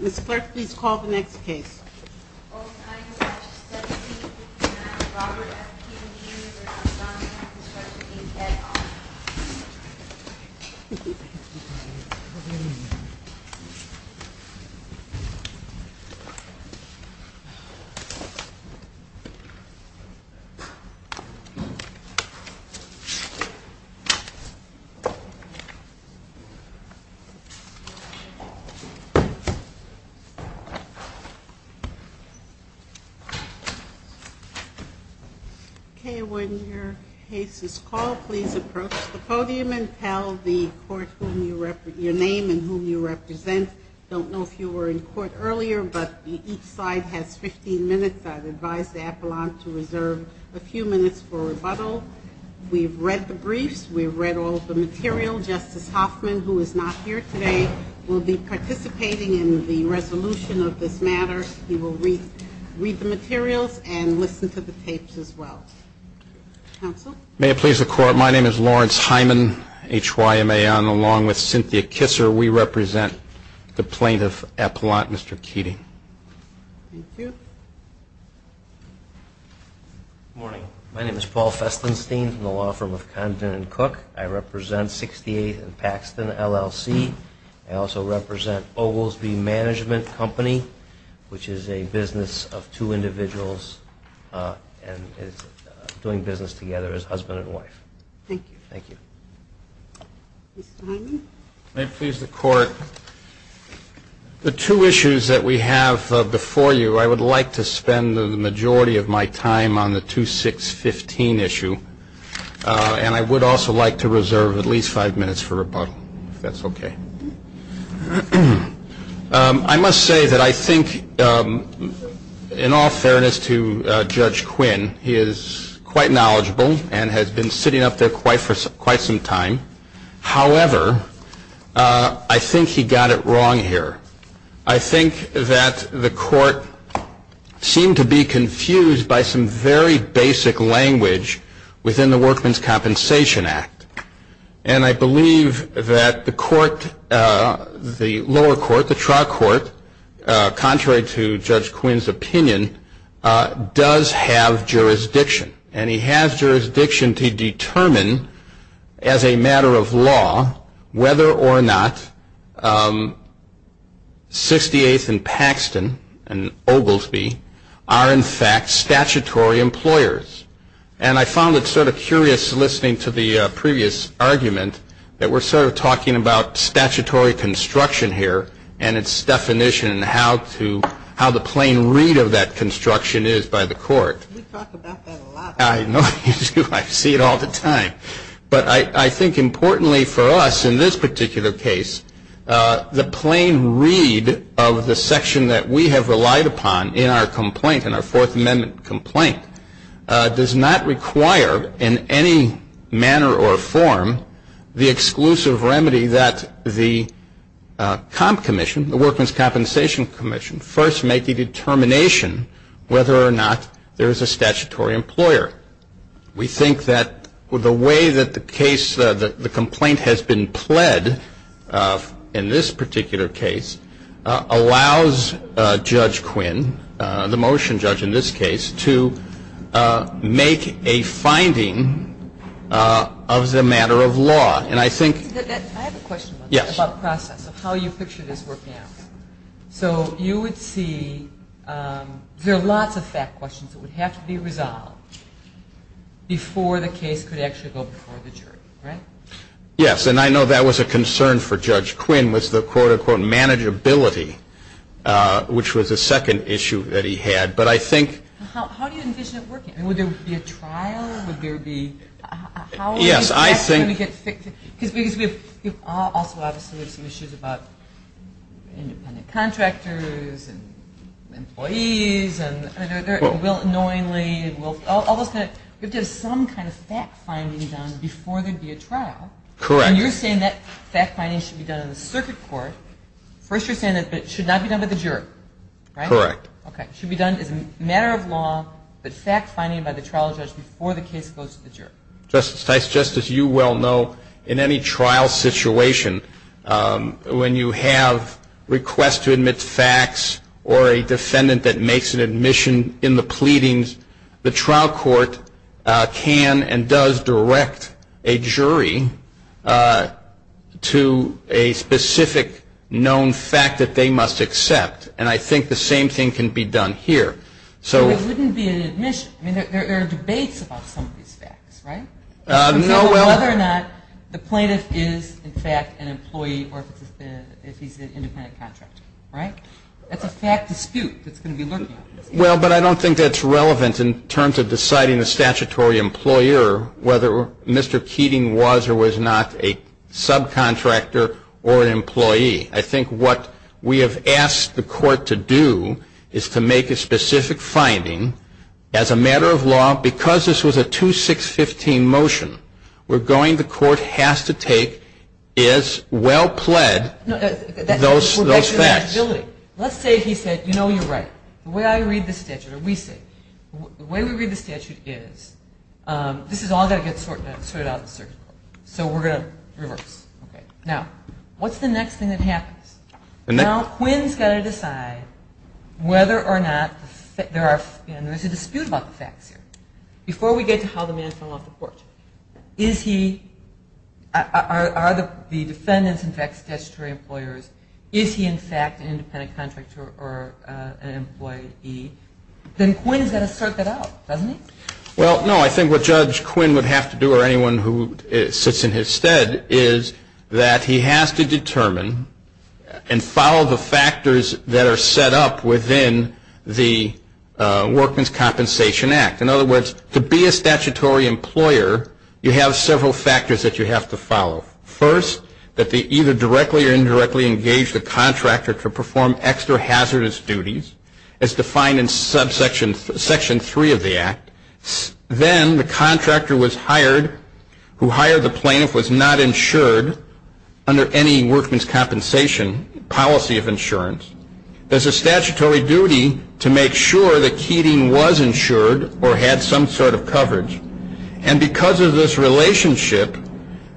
Ms. Clerk, please call the next case. Olsen-Einfeldt v. Steadley v. Brown v. Robert F. Peating v. Gonzon Construction, Inc. Okay, when your case is called, please approach the podium and tell the court your name and whom you represent. I don't know if you were in court earlier, but each side has 15 minutes. I would advise the appellant to reserve a few minutes for rebuttal. We've read the briefs. We've read all of the material. Justice Hoffman, who is not here today, will be participating in the resolution of this matter. He will read the materials and listen to the tapes as well. Counsel? May it please the Court, my name is Lawrence Hyman, H-Y-M-A-N, along with Cynthia Kisser. We represent the plaintiff appellant, Mr. Keating. Thank you. Good morning. My name is Paul Festenstein from the law firm of Condon & Cook. I represent 68th and Paxton, LLC. I also represent Oglesby Management Company, which is a business of two individuals and is doing business together as husband and wife. Thank you. Thank you. Mr. Hyman? May it please the Court, the two issues that we have before you, I would like to spend the majority of my time on the 2615 issue, and I would also like to reserve at least five minutes for rebuttal, if that's okay. I must say that I think, in all fairness to Judge Quinn, he is quite knowledgeable and has been sitting up there quite some time. However, I think he got it wrong here. I think that the Court seemed to be confused by some very basic language within the Workman's Compensation Act, and I believe that the lower court, the trial court, contrary to Judge Quinn's opinion, does have jurisdiction, and he has jurisdiction to determine, as a matter of law, whether or not 68th and Paxton and Oglesby are, in fact, statutory employers. And I found it sort of curious, listening to the previous argument, that we're sort of talking about statutory construction here and its definition and how the plain read of that construction is by the Court. We talk about that a lot. I know you do. I see it all the time. But I think, importantly for us, in this particular case, the plain read of the section that we have relied upon in our complaint, in our Fourth Amendment complaint, does not require, in any manner or form, the exclusive remedy that the Comp Commission, the Workman's Compensation Commission, first make a determination whether or not there is a statutory employer. We think that the way that the case, the complaint has been pled in this particular case, allows Judge Quinn, the motion judge in this case, to make a finding of the matter of law. And I think... I have a question about the process of how you picture this working out. So you would see there are lots of fact questions that would have to be resolved before the case could actually go before the jury, right? Yes. And I know that was a concern for Judge Quinn was the, quote, unquote, manageability, which was a second issue that he had. But I think... How do you envision it working? I mean, would there be a trial? Would there be... Yes, I think... Also, obviously, there are some issues about independent contractors and employees and knowingly, all those kind of... We have to have some kind of fact finding done before there would be a trial. Correct. And you're saying that fact finding should be done in the circuit court. First, you're saying that it should not be done by the juror, right? Correct. Okay, it should be done as a matter of law, but fact finding by the trial judge before the case goes to the juror. Justice Tice, just as you well know, in any trial situation, when you have requests to admit facts or a defendant that makes an admission in the pleadings, the trial court can and does direct a jury to a specific known fact that they must accept. And I think the same thing can be done here. So it wouldn't be an admission. I mean, there are debates about some of these facts, right? No, well... Whether or not the plaintiff is, in fact, an employee or if he's an independent contractor, right? That's a fact dispute that's going to be looking at. Well, but I don't think that's relevant in terms of deciding a statutory employer, whether Mr. Keating was or was not a subcontractor or an employee. I think what we have asked the court to do is to make a specific finding as a matter of law. Because this was a 2-6-15 motion, we're going to court has to take as well pled those facts. Let's say he said, you know, you're right. The way I read the statute, or we say, the way we read the statute is, this has all got to get sorted out in the circuit court. So we're going to reverse. Okay. Now, what's the next thing that happens? Now Quinn's got to decide whether or not there are, you know, there's a dispute about the facts here. Before we get to how the man fell off the porch, is he, are the defendants, in fact, statutory employers? Is he, in fact, an independent contractor or an employee? Then Quinn's got to sort that out, doesn't he? Well, no. I think what Judge Quinn would have to do, or anyone who sits in his stead, is that he has to determine and follow the factors that are set up within the Workman's Compensation Act. In other words, to be a statutory employer, you have several factors that you have to follow. First, that they either directly or indirectly engage the contractor to perform extra hazardous duties, as defined in Section 3 of the Act. Then the contractor was hired, who hired the plaintiff, was not insured under any Workman's Compensation policy of insurance. There's a statutory duty to make sure that Keating was insured or had some sort of coverage. And because of this relationship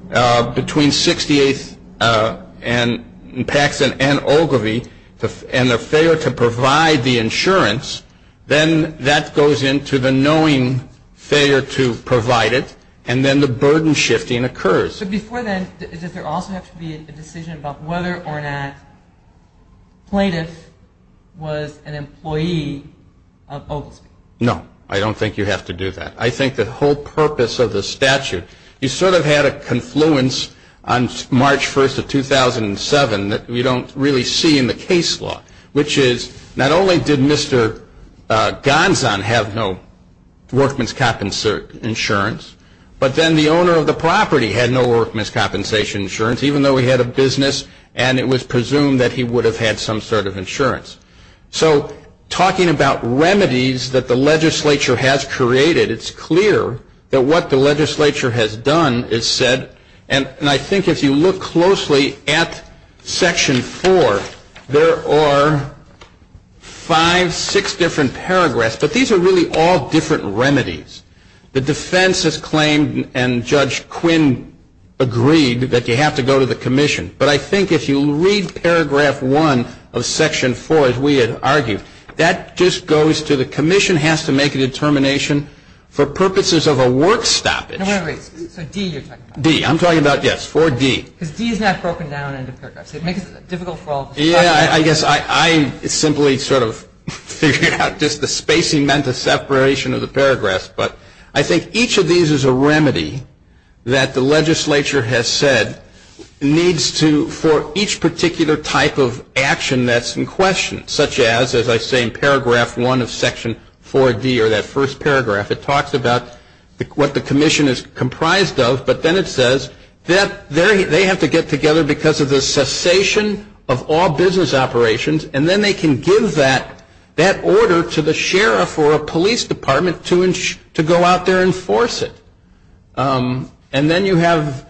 between 68th and Paxson and Ogilvie, and their failure to provide the insurance, then that goes into the knowing failure to provide it, and then the burden shifting occurs. But before then, does there also have to be a decision about whether or not the plaintiff was an employee of Ogilvie? No. I don't think you have to do that. I think the whole purpose of the statute, you sort of had a confluence on March 1st of 2007 that we don't really see in the case law, which is not only did Mr. Gonzon have no Workman's Compensation insurance, but then the owner of the property had no Workman's Compensation insurance, even though he had a business and it was presumed that he would have had some sort of insurance. So talking about remedies that the legislature has created, it's clear that what the legislature has done is said, and I think if you look closely at Section 4, there are five, six different paragraphs, but these are really all different remedies. The defense has claimed, and Judge Quinn agreed, that you have to go to the commission. But I think if you read Paragraph 1 of Section 4, as we had argued, that just goes to the commission has to make a determination for purposes of a work stoppage. So D you're talking about? D. I'm talking about, yes, 4D. Because D is not broken down into paragraphs. It makes it difficult for all of us. Yeah, I guess I simply sort of figured out just the spacing meant a separation of the paragraphs, but I think each of these is a remedy that the legislature has said needs to, for each particular type of action that's in question, such as, as I say in Paragraph 1 of Section 4D, or that first paragraph, it talks about what the commission is comprised of, but then it says that they have to get together because of the cessation of all business operations, and then they can give that order to the sheriff or a police department to go out there and force it. And then you have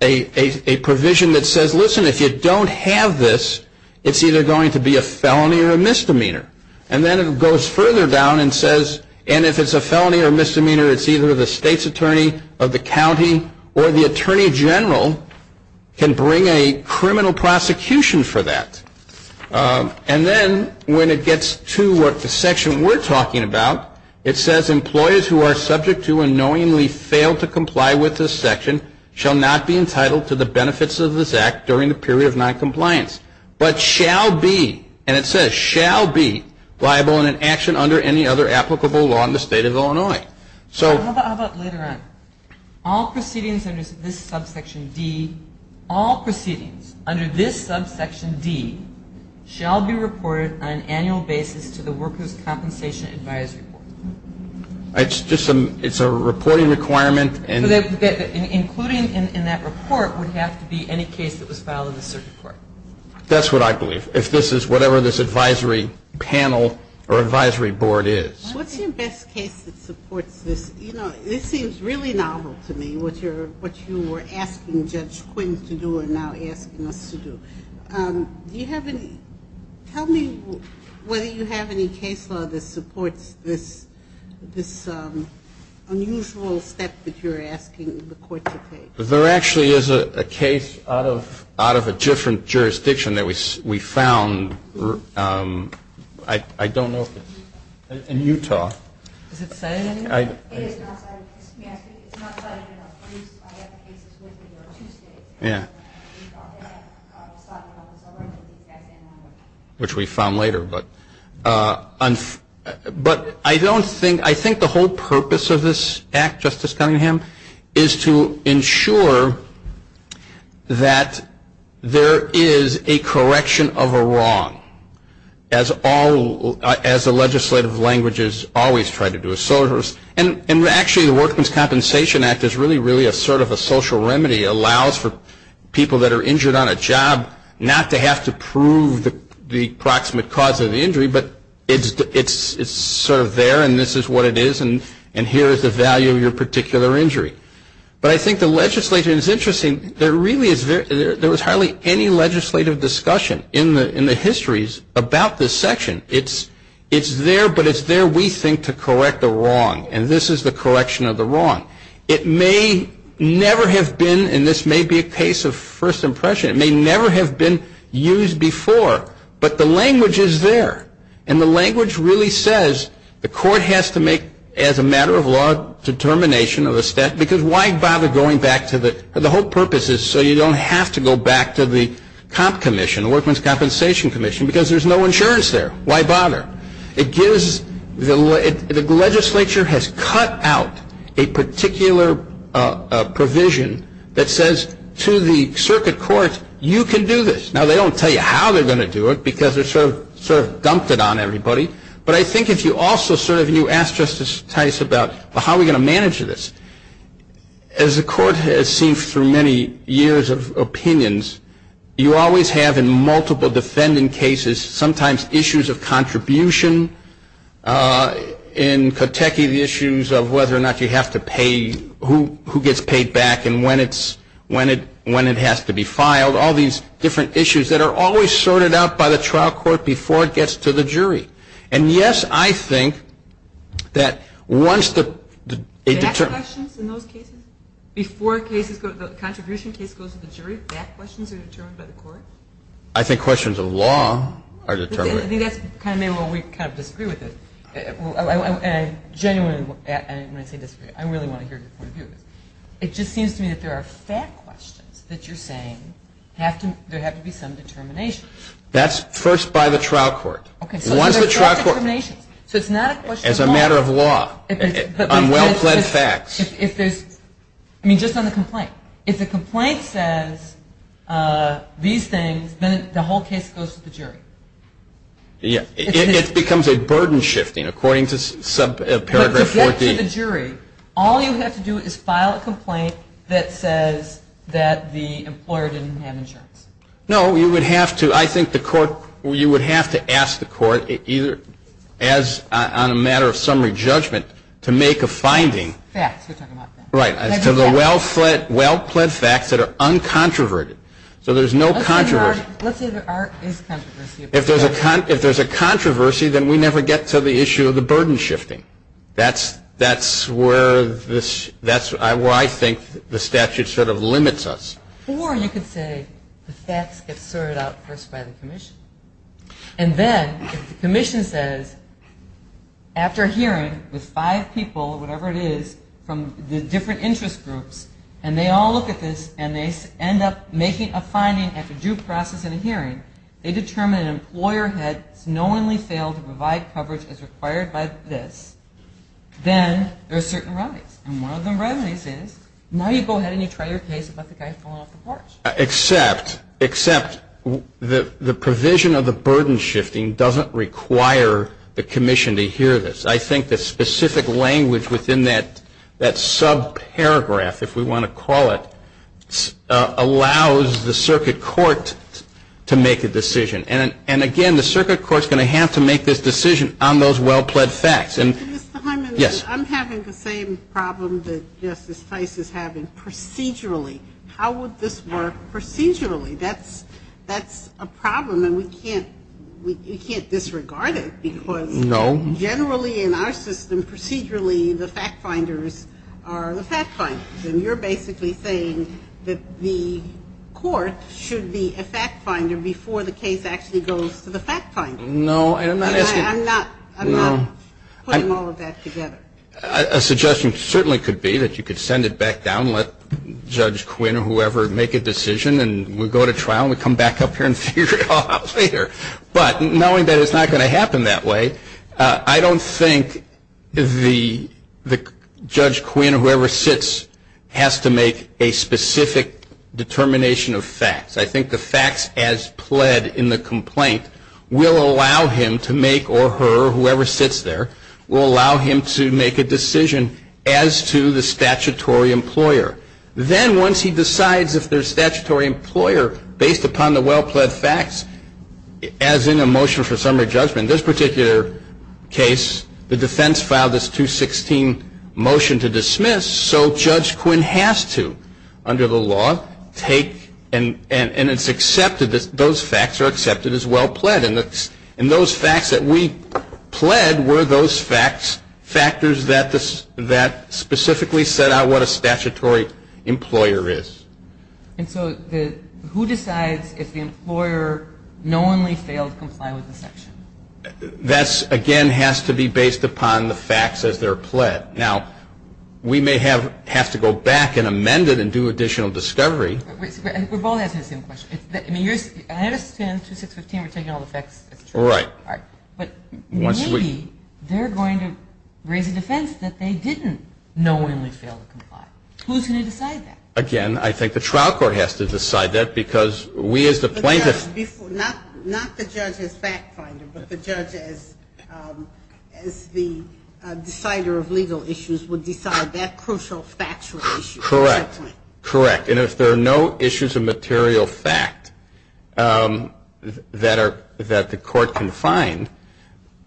a provision that says, listen, if you don't have this, it's either going to be a felony or a misdemeanor. And then it goes further down and says, and if it's a felony or misdemeanor, it's either the state's attorney of the county or the attorney general can bring a criminal prosecution for that. And then when it gets to what the section we're talking about, it says employers who are subject to and knowingly fail to comply with this section shall not be entitled to the benefits of this act during the period of noncompliance, but shall be, and it says shall be liable in an action under any other applicable law in the state of Illinois. So how about later on? All proceedings under this subsection D, all proceedings under this subsection D, shall be reported on an annual basis to the Workers' Compensation Advisory Board. It's just a, it's a reporting requirement. Including in that report would have to be any case that was filed in the circuit court. That's what I believe. If this is whatever this advisory panel or advisory board is. What's your best case that supports this? You know, this seems really novel to me, what you were asking Judge Quinn to do and now asking us to do. Do you have any, tell me whether you have any case law that supports this unusual step that you're asking the court to take. There actually is a case out of, out of a different jurisdiction that we found. I don't know if it's in Utah. Is it cited anywhere? It is not cited. It's not cited in our case. I have cases within your two states. Which we found later. But I don't think, I think the whole purpose of this act, Justice Cunningham, is to ensure that there is a correction of a wrong. As all, as the legislative languages always try to do. And actually the Workers' Compensation Act is really, really a sort of a social remedy. It allows for people that are injured on a job not to have to prove the proximate cause of the injury, but it's sort of there and this is what it is and here is the value of your particular injury. But I think the legislature, and it's interesting, there really is, there was hardly any legislative discussion in the histories about this section. It's there, but it's there, we think, to correct the wrong. And this is the correction of the wrong. It may never have been, and this may be a case of first impression, it may never have been used before. But the language is there. And the language really says the court has to make, as a matter of law, determination of a step. Because why bother going back to the, the whole purpose is so you don't have to go back to the Comp Commission, the Worker's Compensation Commission, because there's no insurance there. Why bother? It gives, the legislature has cut out a particular provision that says to the circuit court, you can do this. Now, they don't tell you how they're going to do it because they've sort of dumped it on everybody. But I think if you also sort of, and you asked Justice Tice about how are we going to manage this, as the court has seen through many years of opinions, you always have in multiple defendant cases, sometimes issues of contribution, in Kotecki the issues of whether or not you have to pay, who gets paid back and when it's, when it has to be filed, all these different issues that are always sorted out by the trial court before it gets to the jury. And yes, I think that once the, a determined- Bad questions in those cases? Before cases go, the contribution case goes to the jury, bad questions are determined by the court? I think questions of law are determined. I think that's kind of, well, we kind of disagree with it. I genuinely, when I say disagree, I really want to hear your point of view. It just seems to me that there are fact questions that you're saying there have to be some determination. That's first by the trial court. Okay, so- Once the trial court- So it's not a question of law? It's a matter of law. But- On well-pled facts. If there's, I mean, just on the complaint, if the complaint says these things, then the whole case goes to the jury. Yeah, it becomes a burden shifting according to paragraph 14. But to get to the jury, all you have to do is file a complaint that says that the employer didn't have insurance. No, you would have to, I think the court, you would have to ask the court either as on a matter of summary judgment to make a finding- Facts, we're talking about facts. Right, as to the well-pled facts that are uncontroverted. So there's no controversy. Let's say there is controversy. If there's a controversy, then we never get to the issue of the burden shifting. That's where I think the statute sort of limits us. Or you could say the facts get sorted out first by the commission. And then if the commission says, after a hearing with five people, whatever it is, from the different interest groups, and they all look at this, and they end up making a finding at the due process in a hearing, they determine an employer has knowingly failed to provide coverage as required by this, then there are certain rights. And one of the remedies is now you go ahead and you try your case and let the guy fall off the porch. Except the provision of the burden shifting doesn't require the commission to hear this. I think the specific language within that subparagraph, if we want to call it, allows the circuit court to make a decision. And, again, the circuit court is going to have to make this decision on those well-pled facts. Mr. Hyman? Yes. I'm having the same problem that Justice Feist is having procedurally. How would this work procedurally? That's a problem, and we can't disregard it. No. Because generally in our system, procedurally, the fact finders are the fact finders. And you're basically saying that the court should be a fact finder before the case actually goes to the fact finder. No. I'm not putting all of that together. A suggestion certainly could be that you could send it back down and let Judge Quinn or whoever make a decision and we go to trial and we come back up here and figure it all out later. But knowing that it's not going to happen that way, I don't think that Judge Quinn or whoever sits has to make a specific determination of facts. I think the facts as pled in the complaint will allow him to make or her or whoever sits there will allow him to make a decision as to the statutory employer. Then once he decides if there's statutory employer based upon the well-pled facts, as in a motion for summary judgment, this particular case, the defense filed this 216 motion to dismiss, so Judge Quinn has to, under the law, take and it's accepted that those facts are accepted as well-pled. And those facts that we pled were those facts, factors that specifically set out what a statutory employer is. And so who decides if the employer knowingly fails to comply with the section? That, again, has to be based upon the facts as they're pled. Now, we may have to go back and amend it and do additional discovery. We're both asking the same question. I understand 2615 we're taking all the facts. Right. But maybe they're going to raise a defense that they didn't knowingly fail to comply. Who's going to decide that? Again, I think the trial court has to decide that because we as the plaintiffs. Not the judge as fact finder, but the judge as the decider of legal issues would decide that crucial factual issue. Correct. And if there are no issues of material fact that the court can find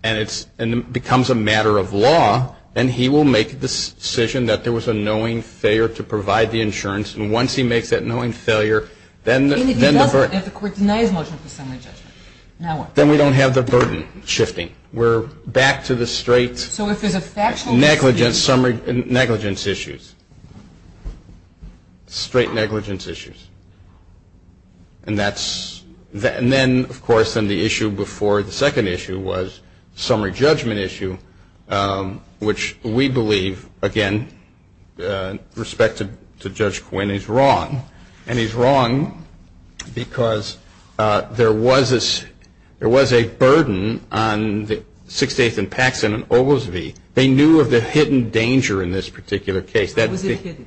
and it becomes a matter of law, then he will make the decision that there was a knowing failure to provide the insurance. And once he makes that knowing failure, then the burden. And if the court denies motion for summary judgment, now what? Then we don't have the burden shifting. We're back to the straight negligence issues. Straight negligence issues. And then, of course, then the issue before the second issue was summary judgment issue, which we believe, again, respect to Judge Quinn, is wrong. And he's wrong because there was a burden on the 6th, 8th, and Paxson and Oglesby. They knew of the hidden danger in this particular case. How was it hidden?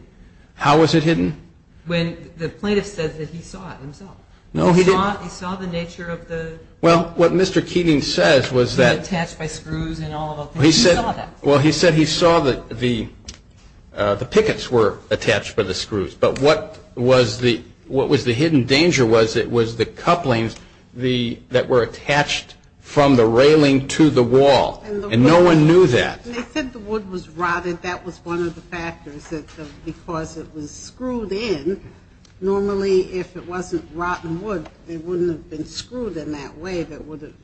How was it hidden? When the plaintiff says that he saw it himself. No, he didn't. He saw the nature of the... Well, what Mr. Keating says was that... Attached by screws and all of that. He said... He saw that. Well, he said he saw that the pickets were attached by the screws. But what was the hidden danger was it was the couplings that were attached from the railing to the wall. And no one knew that. They said the wood was rotted. That was one of the factors because it was screwed in. Normally, if it wasn't rotten wood, it wouldn't have been screwed in that way. That would have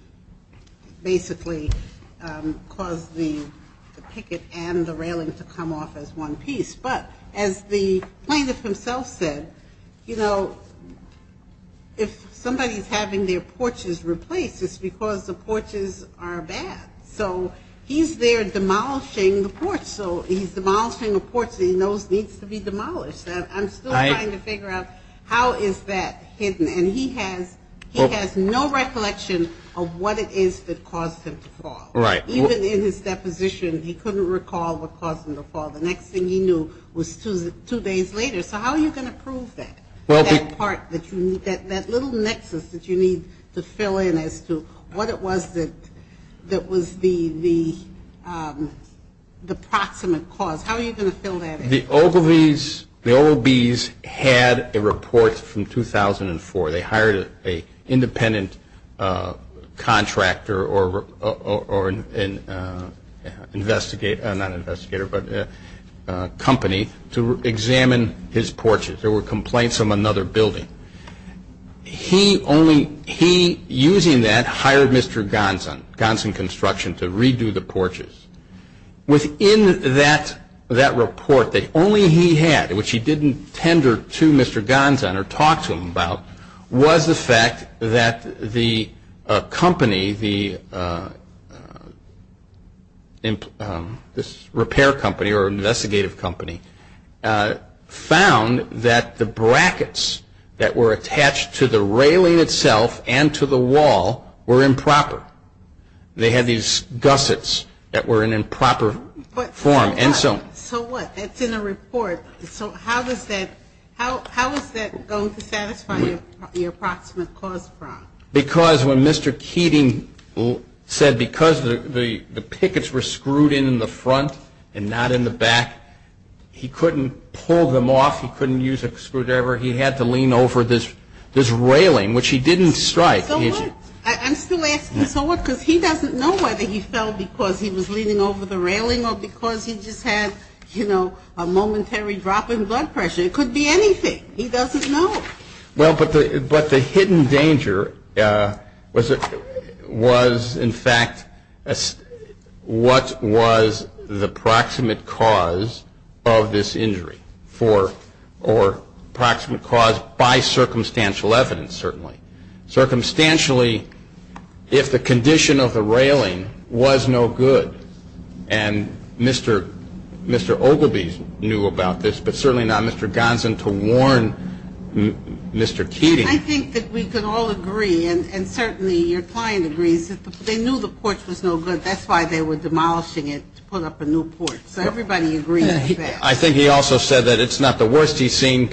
basically caused the picket and the railing to come off as one piece. But as the plaintiff himself said, you know, if somebody's having their porches replaced, it's because the porches are bad. So he's there demolishing the porch. So he's demolishing a porch that he knows needs to be demolished. I'm still trying to figure out how is that hidden. And he has no recollection of what it is that caused him to fall. Right. Even in his deposition, he couldn't recall what caused him to fall. The next thing he knew was two days later. So how are you going to prove that? That little nexus that you need to fill in as to what it was that was the proximate cause. How are you going to fill that in? The OVBs had a report from 2004. They hired an independent contractor or an investigator, not an investigator, but a company to examine his porches. There were complaints from another building. He, using that, hired Mr. Gonson, Gonson Construction, to redo the porches. Within that report that only he had, which he didn't tender to Mr. Gonson or talk to him about, was the fact that the company, this repair company or investigative company, found that the brackets that were attached to the railing itself and to the wall were improper. They had these gussets that were in improper form. So what? That's in the report. So how is that going to satisfy your approximate cause of crime? Because when Mr. Keating said because the pickets were screwed in the front and not in the back, he couldn't pull them off, he couldn't use a screwdriver. He had to lean over this railing, which he didn't strike. So what? I'm still asking so what because he doesn't know whether he fell because he was leaning over the railing or because he just had a momentary drop in blood pressure. It could be anything. He doesn't know. Well, but the hidden danger was, in fact, what was the proximate cause of this injury or proximate cause by circumstantial evidence, certainly. Circumstantially, if the condition of the railing was no good and Mr. Ogilby knew about this, but certainly not Mr. Gonson, to warn Mr. Keating. I think that we could all agree and certainly your client agrees that they knew the porch was no good. That's why they were demolishing it to put up a new porch. So everybody agrees with that. I think he also said that it's not the worst he's seen,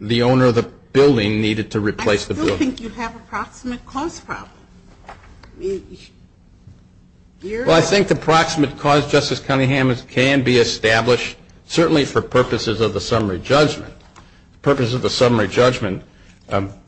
the owner of the building needed to replace the building. I still think you have a proximate cause problem. Well, I think the proximate cause, Justice Cunningham, can be established, certainly for purposes of the summary judgment, purposes of the summary judgment,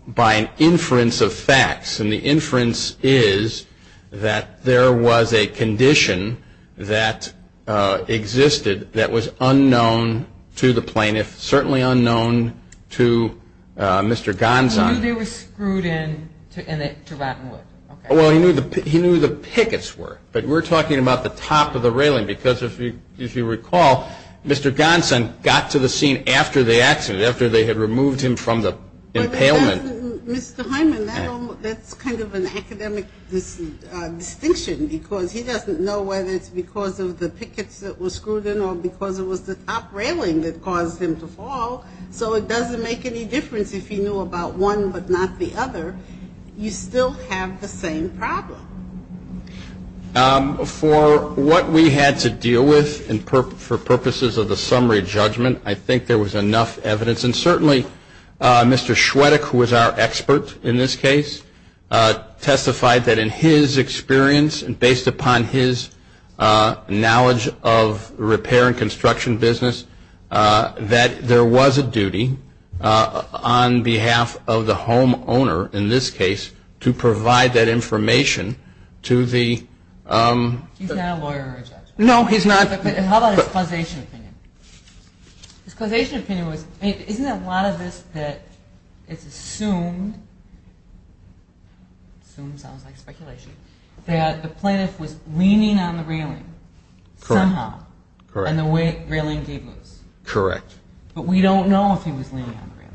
by an inference of facts. And the inference is that there was a condition that existed that was unknown to the plaintiff, certainly unknown to Mr. Gonson. He knew they were screwed in to Rottenwood. Well, he knew the pickets were, but we're talking about the top of the railing, because if you recall, Mr. Gonson got to the scene after the accident, after they had removed him from the impalement. Mr. Hyman, that's kind of an academic distinction, because he doesn't know whether it's because of the pickets that were screwed in or because it was the top railing that caused him to fall. So it doesn't make any difference if you knew about one but not the other. You still have the same problem. For what we had to deal with and for purposes of the summary judgment, I think there was enough evidence. And certainly Mr. Shwedek, who was our expert in this case, testified that in his experience, based upon his knowledge of repair and construction business, that there was a duty on behalf of the homeowner, in this case, to provide that information to the... He's not a lawyer or a judge. No, he's not. How about his causation opinion? His causation opinion was... Isn't it a lot of this that it's assumed, assumed sounds like speculation, that the plaintiff was leaning on the railing somehow? Correct. And the way the railing gave loose? Correct. But we don't know if he was leaning on the railing.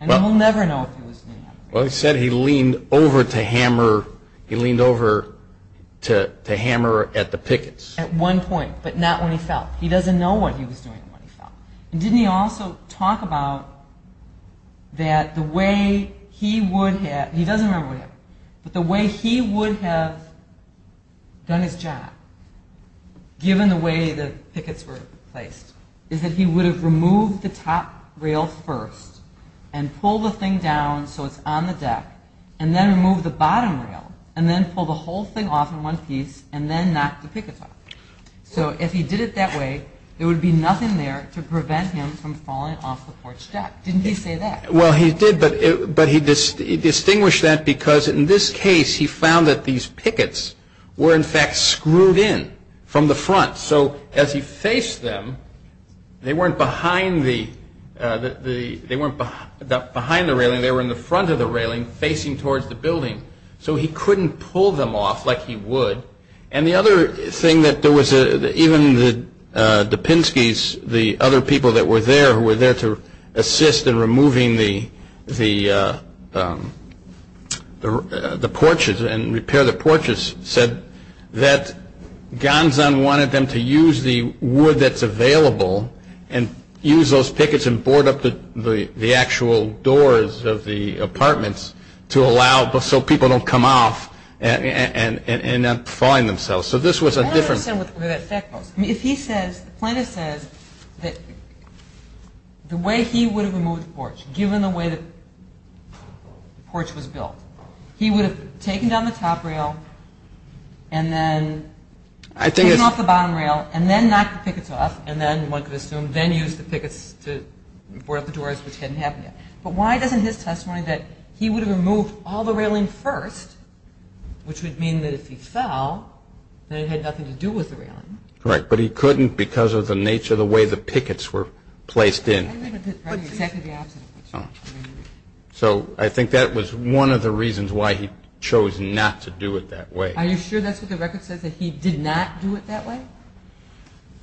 And we'll never know if he was leaning on the railing. Well, he said he leaned over to hammer at the pickets. At one point, but not when he fell. He doesn't know what he was doing when he fell. And didn't he also talk about that the way he would have... He doesn't remember what happened. But the way he would have done his job, given the way the pickets were placed, is that he would have removed the top rail first and pulled the thing down so it's on the deck and then removed the bottom rail and then pulled the whole thing off in one piece and then knocked the pickets off. So if he did it that way, there would be nothing there to prevent him from falling off the porch deck. Didn't he say that? Well, he did. But he distinguished that because in this case, he found that these pickets were in fact screwed in from the front. So as he faced them, they weren't behind the railing. They were in the front of the railing facing towards the building. So he couldn't pull them off like he would. And the other thing that there was, even the Dupinskys, the other people that were there, who were there to assist in removing the porches and repair the porches, said that Gonzon wanted them to use the wood that's available and use those pickets and board up the actual doors of the apartments so people don't come off and end up falling themselves. So this was a different... I don't understand what the effect was. If the plaintiff says that the way he would have removed the porch, given the way the porch was built, he would have taken down the top rail and then taken off the bottom rail and then knocked the pickets off and then, one could assume, then used the pickets to board up the doors, which hadn't happened yet. But why doesn't his testimony that he would have removed all the railing first, which would mean that if he fell, then it had nothing to do with the railing. Correct. But he couldn't because of the nature of the way the pickets were placed in. I think it's exactly the opposite of what you're saying. So I think that was one of the reasons why he chose not to do it that way. Are you sure that's what the record says, that he did not do it that way?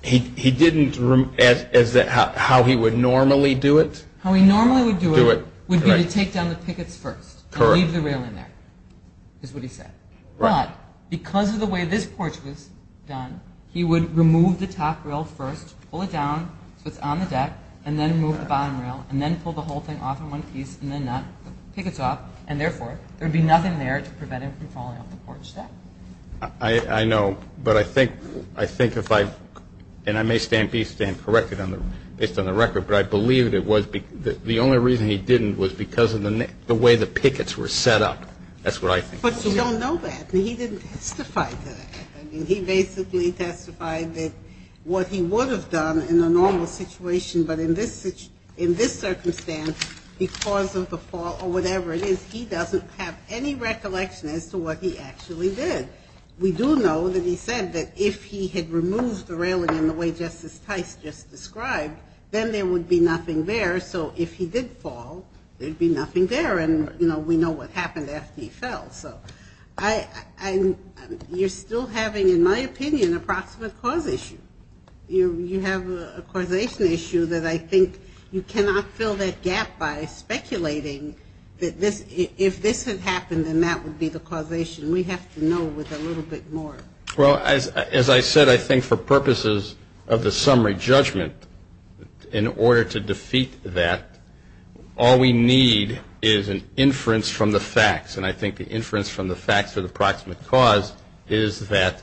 He didn't... How he would normally do it? How he normally would do it would be to take down the pickets first and leave the railing there, is what he said. But because of the way this porch was done, he would remove the top rail first, pull it down so it's on the deck, and then remove the bottom rail and then pull the whole thing off in one piece and then knock the pickets off and therefore there would be nothing there to prevent him from falling off the porch deck. I know, but I think if I, and I may stand corrected based on the record, but I believe it was the only reason he didn't was because of the way the pickets were set up. That's what I think. But you don't know that. He didn't testify to that. I mean, he basically testified that what he would have done in a normal situation but in this circumstance, because of the fall or whatever it is, he doesn't have any recollection as to what he actually did. We do know that he said that if he had removed the railing in the way Justice Tice just described, then there would be nothing there. So if he did fall, there would be nothing there, and, you know, we know what happened after he fell. So you're still having, in my opinion, a proximate cause issue. You have a causation issue that I think you cannot fill that gap by speculating that if this had happened, then that would be the causation. We have to know with a little bit more. Well, as I said, I think for purposes of the summary judgment, in order to defeat that, all we need is an inference from the facts. And I think the inference from the facts of the proximate cause is that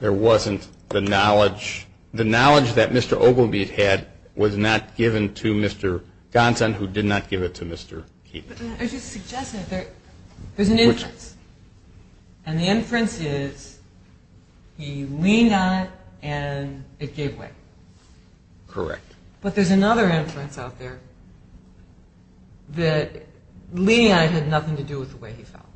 there wasn't the knowledge. The knowledge that Mr. Ogilvie had was not given to Mr. Gonson, who did not give it to Mr. Keating. But as you suggested, there's an inference, and the inference is he leaned on it and it gave way. Correct. But there's another inference out there that leaning on it had nothing to do with the way he fell,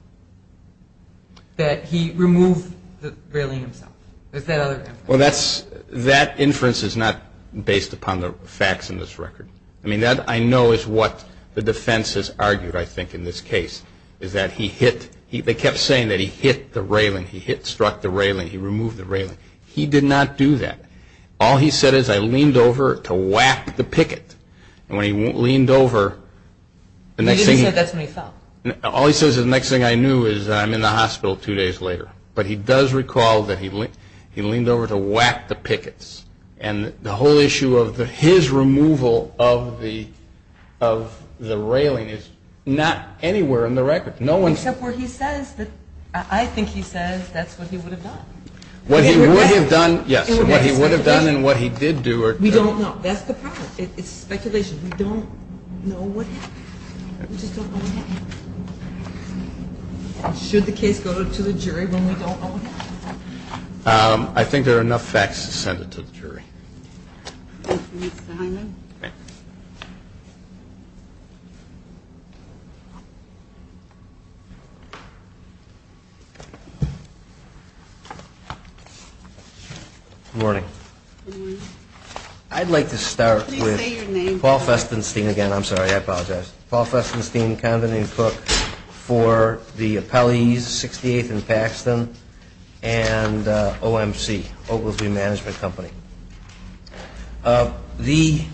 that he removed the railing himself. There's that other inference. Well, that inference is not based upon the facts in this record. I mean, that I know is what the defense has argued, I think, in this case, is that he hit, they kept saying that he hit the railing, he struck the railing, he removed the railing. He did not do that. All he said is, I leaned over to whack the picket. And when he leaned over, the next thing he did. He didn't say that's when he fell. All he says is the next thing I knew is that I'm in the hospital two days later. But he does recall that he leaned over to whack the pickets. And the whole issue of his removal of the railing is not anywhere in the record. Except where he says that, I think he says that's what he would have done. What he would have done, yes. What he would have done and what he did do. We don't know. That's the problem. It's speculation. We don't know what happened. We just don't know what happened. Should the case go to the jury when we don't know what happened? I think there are enough facts to send it to the jury. Thank you, Mr. Hyman. Good morning. Good morning. I'd like to start with Paul Festenstein again. I'm sorry, I apologize. Paul Festenstein, Condon and Cook for the appellees, 68th and Paxton, and OMC, Oglesby Management Company. The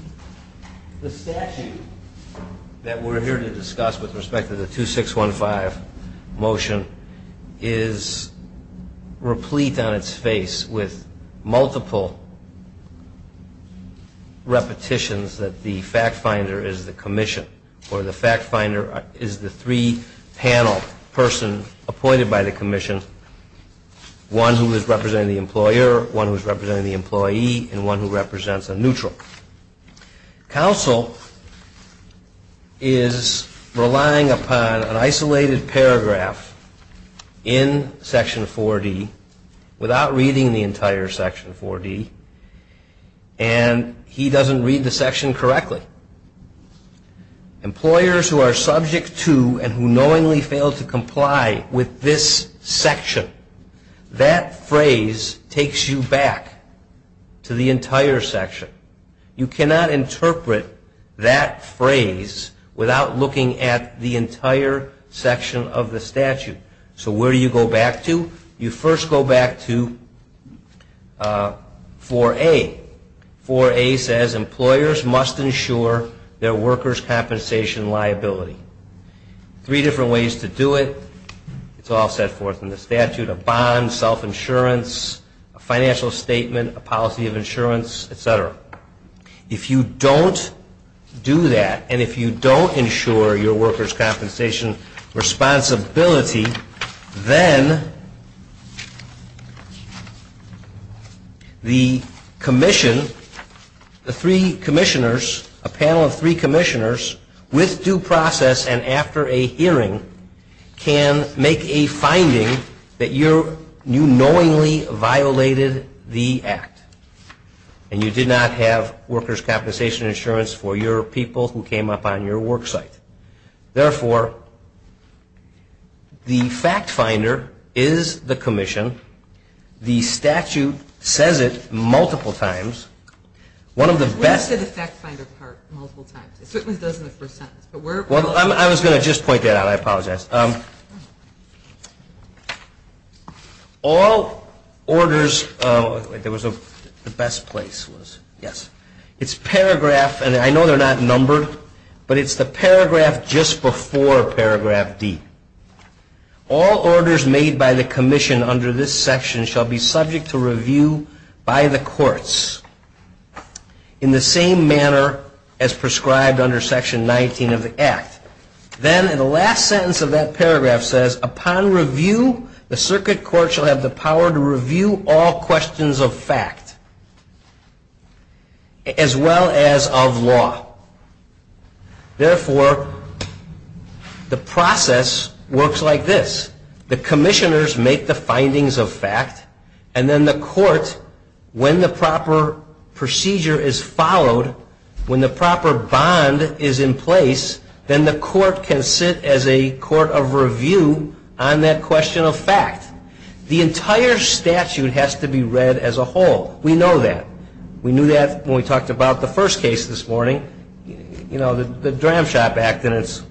statute that we're here to discuss with respect to the 2615 motion is replete on its face with multiple repetitions that the fact finder is the commission, or the fact finder is the three-panel person appointed by the commission, one who is representing the employer, one who is representing the employee, and one who represents a neutral. Counsel is relying upon an isolated paragraph in Section 4D without reading the entire Section 4D, and he doesn't read the section correctly. Employers who are subject to and who knowingly fail to comply with this section, that phrase takes you back to the entire section. You cannot interpret that phrase without looking at the entire section of the statute. So where do you go back to? You first go back to 4A. 4A says employers must ensure their workers' compensation liability. Three different ways to do it. It's all set forth in the statute, a bond, self-insurance, a financial statement, a policy of insurance, et cetera. If you don't do that, and if you don't ensure your workers' compensation responsibility, then the commission, the three commissioners, a panel of three commissioners, with due process and after a hearing can make a finding that you knowingly violated the act and you did not have workers' compensation insurance for your people who came up on your work site. Therefore, the fact finder is the commission. The statute says it multiple times. One of the best. I was going to just point that out. I apologize. All orders, the best place was, yes. It's paragraph, and I know they're not numbered, but it's the paragraph just before paragraph D. All orders made by the commission under this section shall be subject to review by the courts in the same manner as prescribed under section 19 of the act. Then in the last sentence of that paragraph says, upon review, the circuit court shall have the power to review all questions of fact as well as of law. Therefore, the process works like this. The commissioners make the findings of fact, and then the court, when the proper procedure is followed, when the proper bond is in place, then the court can sit as a court of review on that question of fact. The entire statute has to be read as a whole. We know that. We knew that when we talked about the first case this morning, you know, the Dram Shop Act and its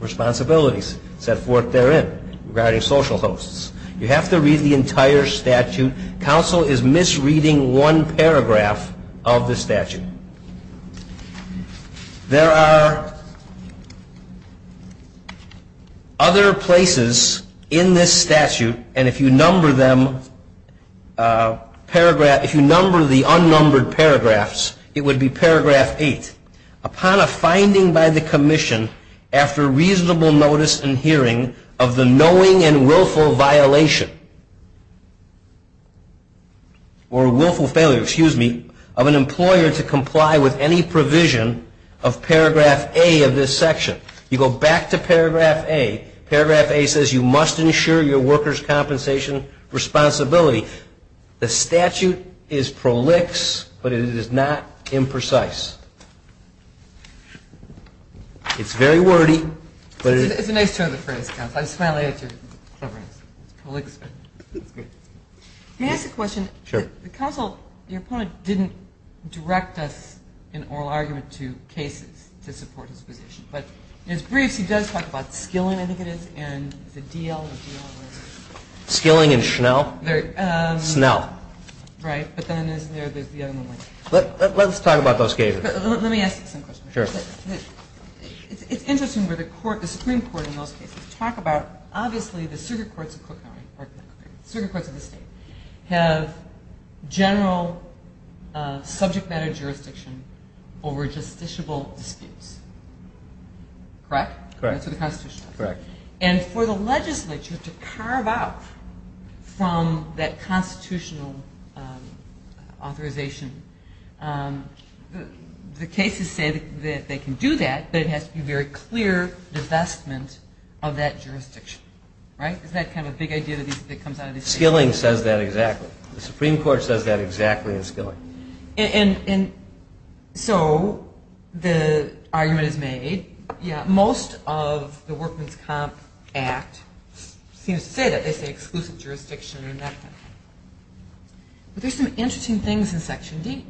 responsibilities set forth therein regarding social hosts. You have to read the entire statute. Counsel is misreading one paragraph of the statute. There are other places in this statute, and if you number them, if you number the unnumbered paragraphs, it would be paragraph 8. Upon a finding by the commission after reasonable notice and hearing of the knowing and willful violation, or willful failure, excuse me, of an employer to comply with any provision of paragraph A of this section. You go back to paragraph A. Paragraph A says you must ensure your workers' compensation responsibility. The statute is prolix, but it is not imprecise. It's very wordy. It's a nice turn of the phrase, counsel. I just finally got your cleverness. It's prolix. May I ask a question? Sure. Counsel, your opponent didn't direct us in oral argument to cases to support his position, but in his briefs he does talk about Skilling, I think it is, and the deal. Skilling and Schnell? Schnell. Right, but then there's the other one. Let's talk about those cases. Let me ask you some questions. Sure. It's interesting where the Supreme Court in those cases talk about, obviously the circuit courts of the state have general subject matter jurisdiction over justiciable disputes. Correct? Correct. That's what the Constitution says. Correct. And for the legislature to carve out from that constitutional authorization, the cases say that they can do that, but it has to be a very clear divestment of that jurisdiction. Right? Isn't that kind of a big idea that comes out of these cases? Skilling says that exactly. The Supreme Court says that exactly in Skilling. And so the argument is made, yeah, most of the Workman's Comp Act seems to say that. They say exclusive jurisdiction and that kind of thing. But there's some interesting things in Section D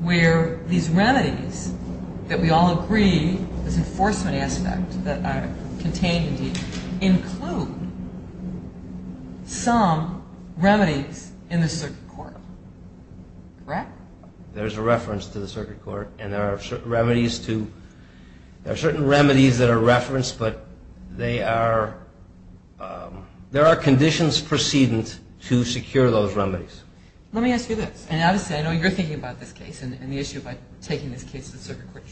where these remedies that we all agree, this enforcement aspect that are contained in D, include some remedies in the circuit court. Correct? There's a reference to the circuit court, and there are certain remedies that are referenced, but there are conditions precedent to secure those remedies. Let me ask you this. And obviously I know you're thinking about this case and the issue of taking this case to the circuit court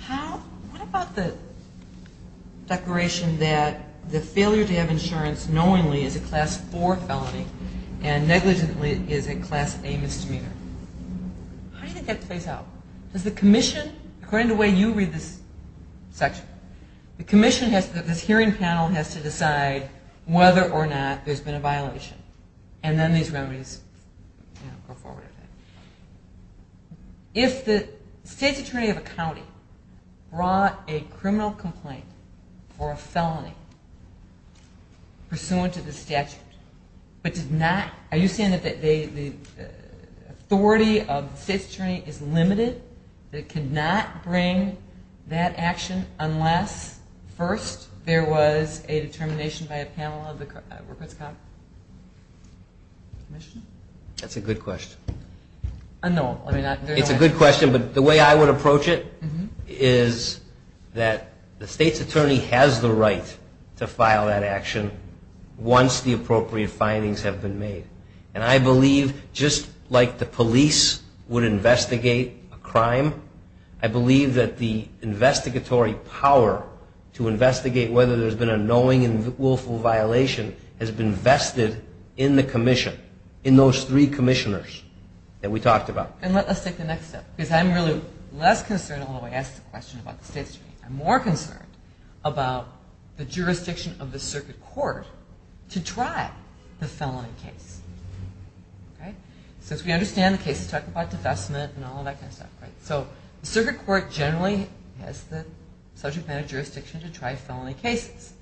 trial. What about the declaration that the failure to have insurance knowingly is a Class IV felony and negligently is a Class A misdemeanor? How do you think that plays out? Does the commission, according to the way you read this section, the commission has to, this hearing panel has to decide whether or not there's been a violation, and then these remedies go forward. If the state's attorney of a county brought a criminal complaint for a felony pursuant to the statute but did not, are you saying that the authority of the state's attorney is limited, that it cannot bring that action unless, first, there was a determination by a panel of the Rupert Scott commission? That's a good question. It's a good question, but the way I would approach it is that the state's attorney has the right to file that action once the appropriate findings have been made. And I believe, just like the police would investigate a crime, I believe that the investigatory power to investigate whether there's been a knowing and willful violation has been vested in the commission, in those three commissioners that we talked about. And let's take the next step, because I'm really less concerned, although I asked the question about the state's attorney, I'm more concerned about the jurisdiction of the circuit court to try the felony case. Since we understand the case is talking about divestment and all that kind of stuff. So the circuit court generally has the subject matter jurisdiction to try felony cases.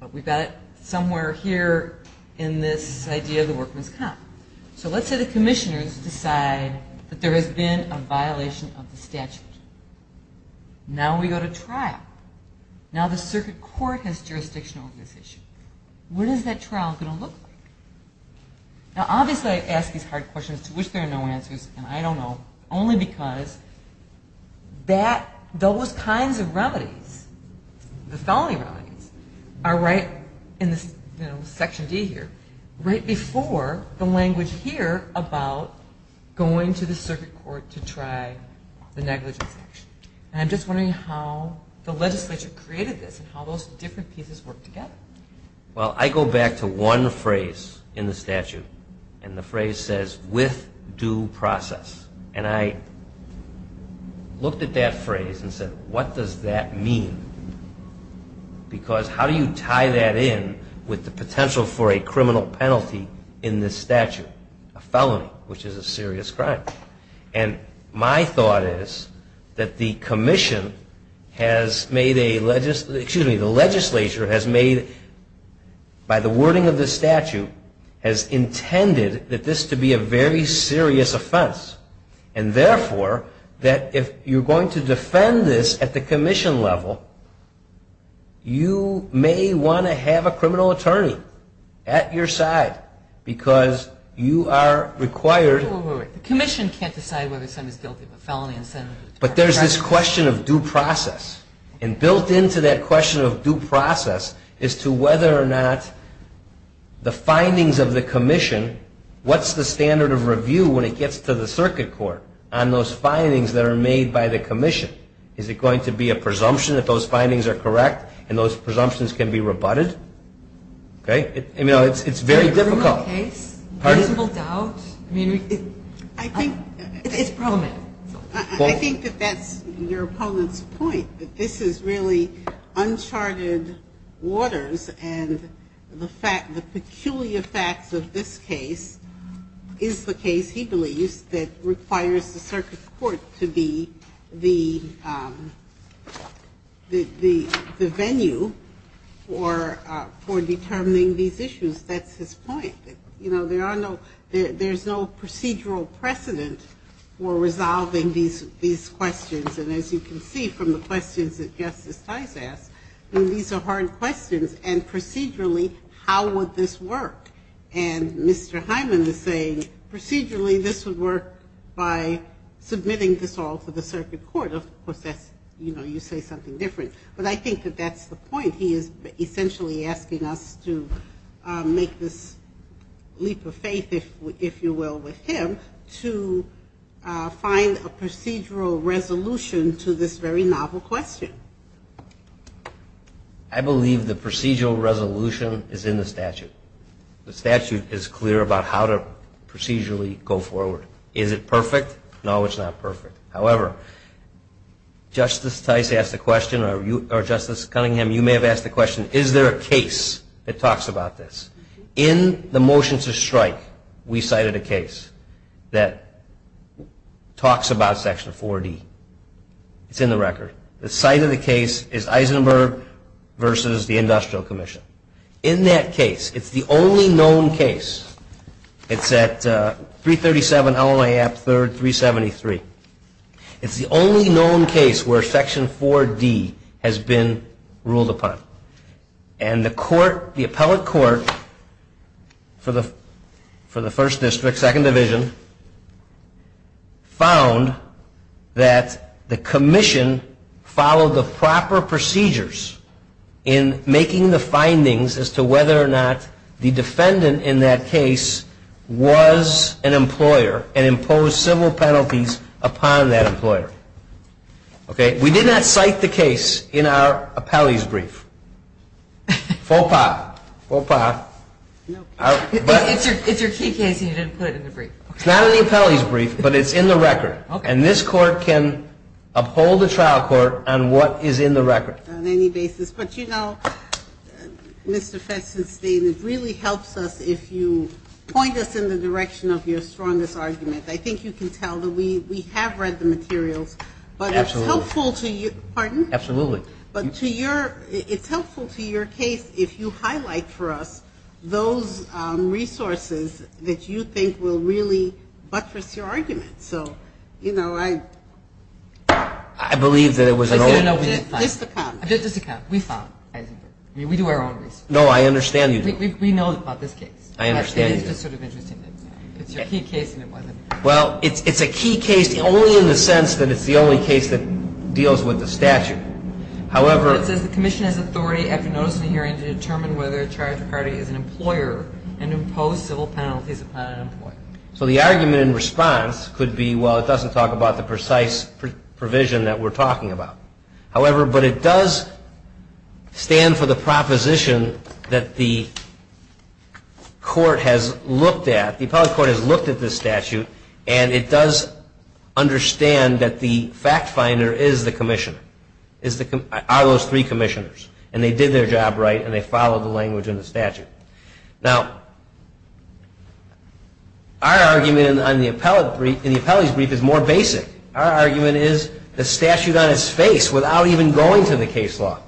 But we've got it somewhere here in this idea of the workman's cop. So let's say the commissioners decide that there has been a violation of the statute. Now we go to trial. Now the circuit court has jurisdiction over this issue. What is that trial going to look like? Now obviously I ask these hard questions to which there are no answers, and I don't know, only because those kinds of remedies, the felony remedies, are right in this section D here, right before the language here about going to the circuit court to try the negligence action. And I'm just wondering how the legislature created this and how those different pieces work together. Well, I go back to one phrase in the statute, and the phrase says, with due process. And I looked at that phrase and said, what does that mean? Because how do you tie that in with the potential for a criminal penalty in this statute? A felony, which is a serious crime. And my thought is that the legislature has made, by the wording of the statute, has intended that this to be a very serious offense. And therefore, that if you're going to defend this at the commission level, you may want to have a criminal attorney at your side, because you are required. Wait, wait, wait. The commission can't decide whether a son is guilty of a felony. But there's this question of due process. And built into that question of due process is to whether or not the findings of the commission, what's the standard of review when it gets to the circuit court on those findings that are made by the commission? Is it going to be a presumption that those findings are correct and those presumptions can be rebutted? Okay? I mean, it's very difficult. Criminal case? Possible doubt? I mean, it's problematic. I think that that's your opponent's point. This is really uncharted waters. And the peculiar facts of this case is the case, he believes, that requires the circuit court to be the venue for determining these issues. That's his point. You know, there's no procedural precedent for resolving these questions. And as you can see from the questions that Justice Tice asked, these are hard questions. And procedurally, how would this work? And Mr. Hyman is saying, procedurally, this would work by submitting this all to the circuit court. Of course, that's, you know, you say something different. But I think that that's the point. And he is essentially asking us to make this leap of faith, if you will, with him, to find a procedural resolution to this very novel question. I believe the procedural resolution is in the statute. The statute is clear about how to procedurally go forward. Is it perfect? No, it's not perfect. However, Justice Tice asked the question, or Justice Cunningham, you may have asked the question, is there a case that talks about this? In the motion to strike, we cited a case that talks about Section 4D. It's in the record. The site of the case is Eisenberg versus the Industrial Commission. In that case, it's the only known case. It's at 337 Illinois Ave. 3rd, 373. It's the only known case where Section 4D has been ruled upon. And the court, the appellate court for the First District, Second Division, found that the commission followed the proper procedures in making the findings as to whether or not the defendant in that case was an employer and imposed civil penalties upon that employer. Okay? We did not cite the case in our appellee's brief. Faux pas. Faux pas. It's your key case and you didn't put it in the brief. It's not in the appellee's brief, but it's in the record. Okay. And this court can uphold the trial court on what is in the record. On any basis. But, you know, Mr. Fentonstein, it really helps us if you point us in the direction of your strongest argument. I think you can tell that we have read the materials. Absolutely. But it's helpful to you. Pardon? Absolutely. But to your ‑‑ it's helpful to your case if you highlight for us those resources that you think will really buttress your argument. So, you know, I ‑‑ I believe that it was an old ‑‑ Just a comment. Just a comment. We found Eisenberg. We do our own research. No, I understand you don't. We know about this case. I understand you don't. It is just sort of interesting that it's your key case and it wasn't. Well, it's a key case only in the sense that it's the only case that deals with the statute. However ‑‑ It says the commission has authority after notice of the hearing to determine whether a charged party is an employer and impose civil penalties upon an employer. So the argument in response could be, well, it doesn't talk about the precise provision that we're talking about. However, but it does stand for the proposition that the court has looked at, the appellate court has looked at this statute, and it does understand that the fact finder is the commissioner, are those three commissioners, and they did their job right and they followed the language in the statute. Now, our argument in the appellate's brief is more basic. Our argument is the statute on its face without even going to the case law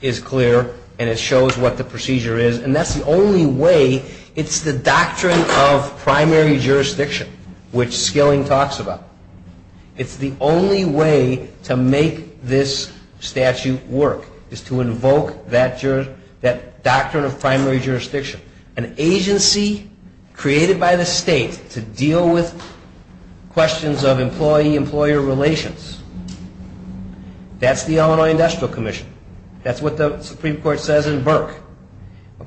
is clear and it shows what the procedure is, and that's the only way it's the doctrine of primary jurisdiction, which Skilling talks about. It's the only way to make this statute work, is to invoke that doctrine of primary jurisdiction. An agency created by the state to deal with questions of employee‑employer relations. That's the Illinois Industrial Commission. That's what the Supreme Court says in Burke.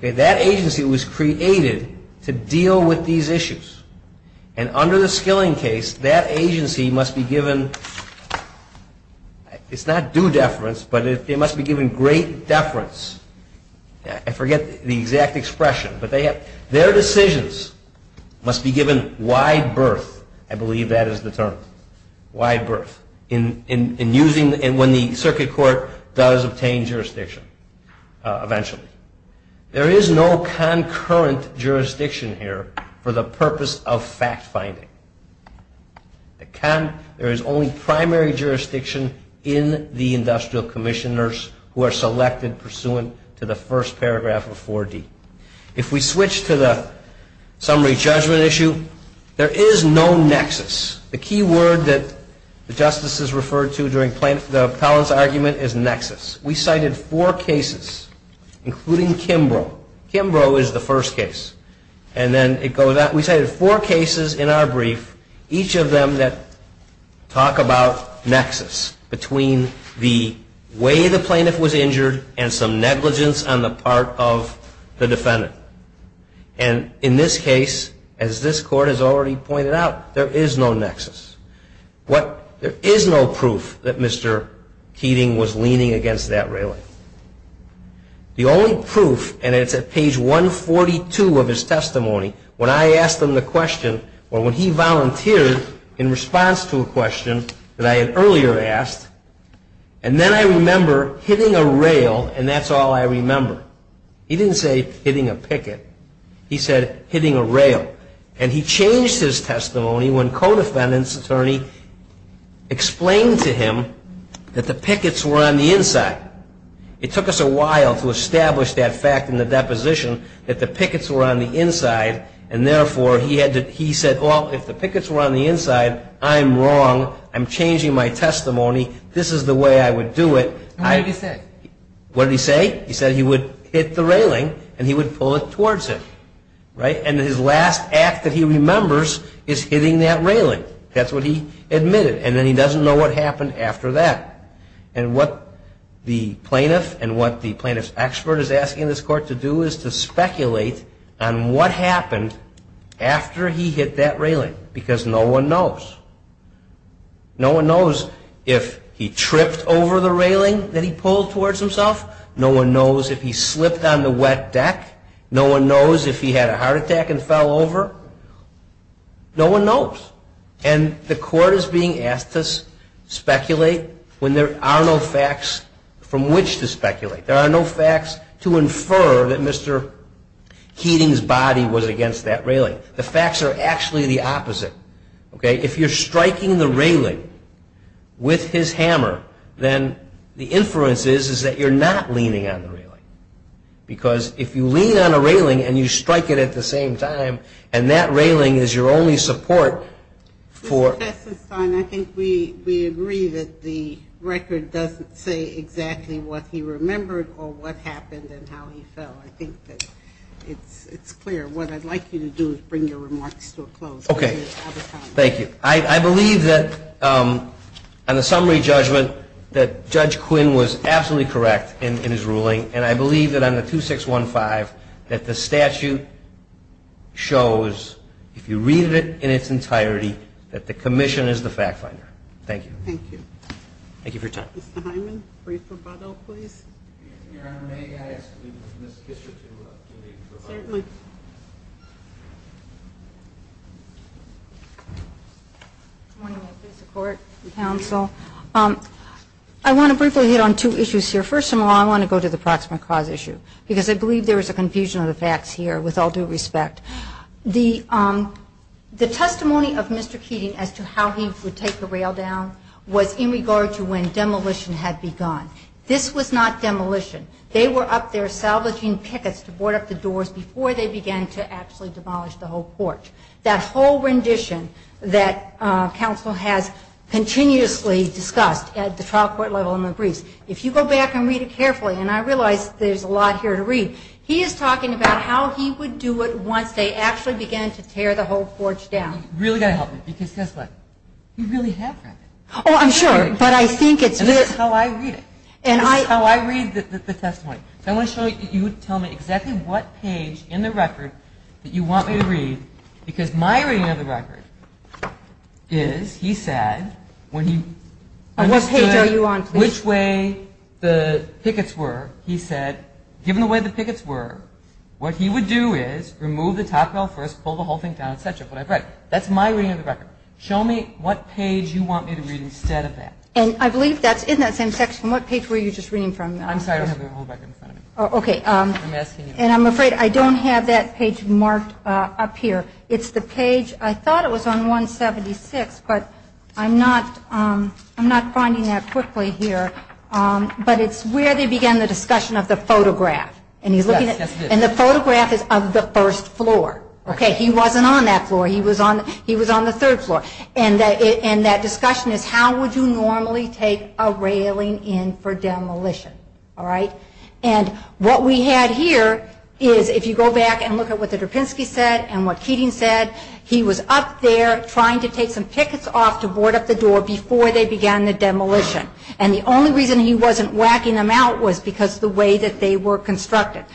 That agency was created to deal with these issues, and under the Skilling case, that agency must be given, it's not due deference, but it must be given great deference. I forget the exact expression, but their decisions must be given wide berth. I believe that is the term. Wide berth. When the circuit court does obtain jurisdiction, eventually. There is no concurrent jurisdiction here for the purpose of fact finding. There is only primary jurisdiction in the industrial commissioners who are selected pursuant to the first paragraph of 4D. If we switch to the summary judgment issue, there is no nexus. The key word that the justices referred to during Palin's argument is nexus. We cited four cases, including Kimbrough. Kimbrough is the first case. And then we cited four cases in our brief, each of them that talk about nexus between the way the plaintiff was injured and some negligence on the part of the defendant. And in this case, as this court has already pointed out, there is no nexus. There is no proof that Mr. Keating was leaning against that railing. The only proof, and it's at page 142 of his testimony, when I asked him the question, or when he volunteered in response to a question that I had earlier asked, and then I remember hitting a rail, and that's all I remember. He didn't say hitting a picket. He said hitting a rail. And he changed his testimony when co-defendant's attorney explained to him that the pickets were on the inside. It took us a while to establish that fact in the deposition, that the pickets were on the inside, and therefore he said, well, if the pickets were on the inside, I'm wrong. I'm changing my testimony. This is the way I would do it. What did he say? He said he would hit the railing and he would pull it towards him. And his last act that he remembers is hitting that railing. That's what he admitted. And then he doesn't know what happened after that. And what the plaintiff and what the plaintiff's expert is asking this court to do is to speculate on what happened after he hit that railing because no one knows. No one knows if he tripped over the railing that he pulled towards himself. No one knows if he slipped on the wet deck. No one knows if he had a heart attack and fell over. No one knows. And the court is being asked to speculate when there are no facts from which to speculate. There are no facts to infer that Mr. Keating's body was against that railing. The facts are actually the opposite. If you're striking the railing with his hammer, then the inference is that you're not leaning on the railing. Because if you lean on a railing and you strike it at the same time and that railing is your only support for... Justice Stein, I think we agree that the record doesn't say exactly what he remembered or what happened and how he fell. I think that it's clear. What I'd like you to do is bring your remarks to a close. Okay. Thank you. I believe that on the summary judgment that Judge Quinn was absolutely correct in his ruling, and I believe that on the 2615 that the statute shows, if you read it in its entirety, that the commission is the fact finder. Thank you. Thank you. Thank you for your time. Mr. Hyman, brief rebuttal, please. Your Honor, may I ask Ms. Kischer to provide... Certainly. Good morning, Mr. Court, counsel. I want to briefly hit on two issues here. First of all, I want to go to the proximate cause issue because I believe there is a confusion of the facts here with all due respect. The testimony of Mr. Keating as to how he would take the rail down was in regard to when demolition had begun. This was not demolition. They were up there salvaging pickets to board up the doors before they began to actually demolish the whole porch. That whole rendition that counsel has continuously discussed at the trial court level in the briefs, if you go back and read it carefully, and I realize there's a lot here to read, he is talking about how he would do it once they actually began to tear the whole porch down. You've really got to help me because guess what? You really have read it. Oh, I'm sure, but I think it's... And this is how I read it. And this is how I read the testimony. So I want to show you, you tell me exactly what page in the record that you want me to read because my reading of the record is, he said, when he... What page are you on, please? Which way the pickets were, he said, given the way the pickets were, what he would do is remove the top rail first, pull the whole thing down, et cetera. That's my reading of the record. Show me what page you want me to read instead of that. And I believe that's in that same section. What page were you just reading from? I'm sorry, I don't have it all back in front of me. Okay. I'm asking you. And I'm afraid I don't have that page marked up here. It's the page, I thought it was on 176, but I'm not finding that quickly here. But it's where they began the discussion of the photograph. And the photograph is of the first floor. Okay. He wasn't on that floor. He was on the third floor. And that discussion is, how would you normally take a railing in for demolition? All right? And what we had here is, if you go back and look at what the Drapinski said and what Keating said, he was up there trying to take some pickets off to board up the door before they began the demolition. And the only reason he wasn't whacking them out was because of the way that they were constructed.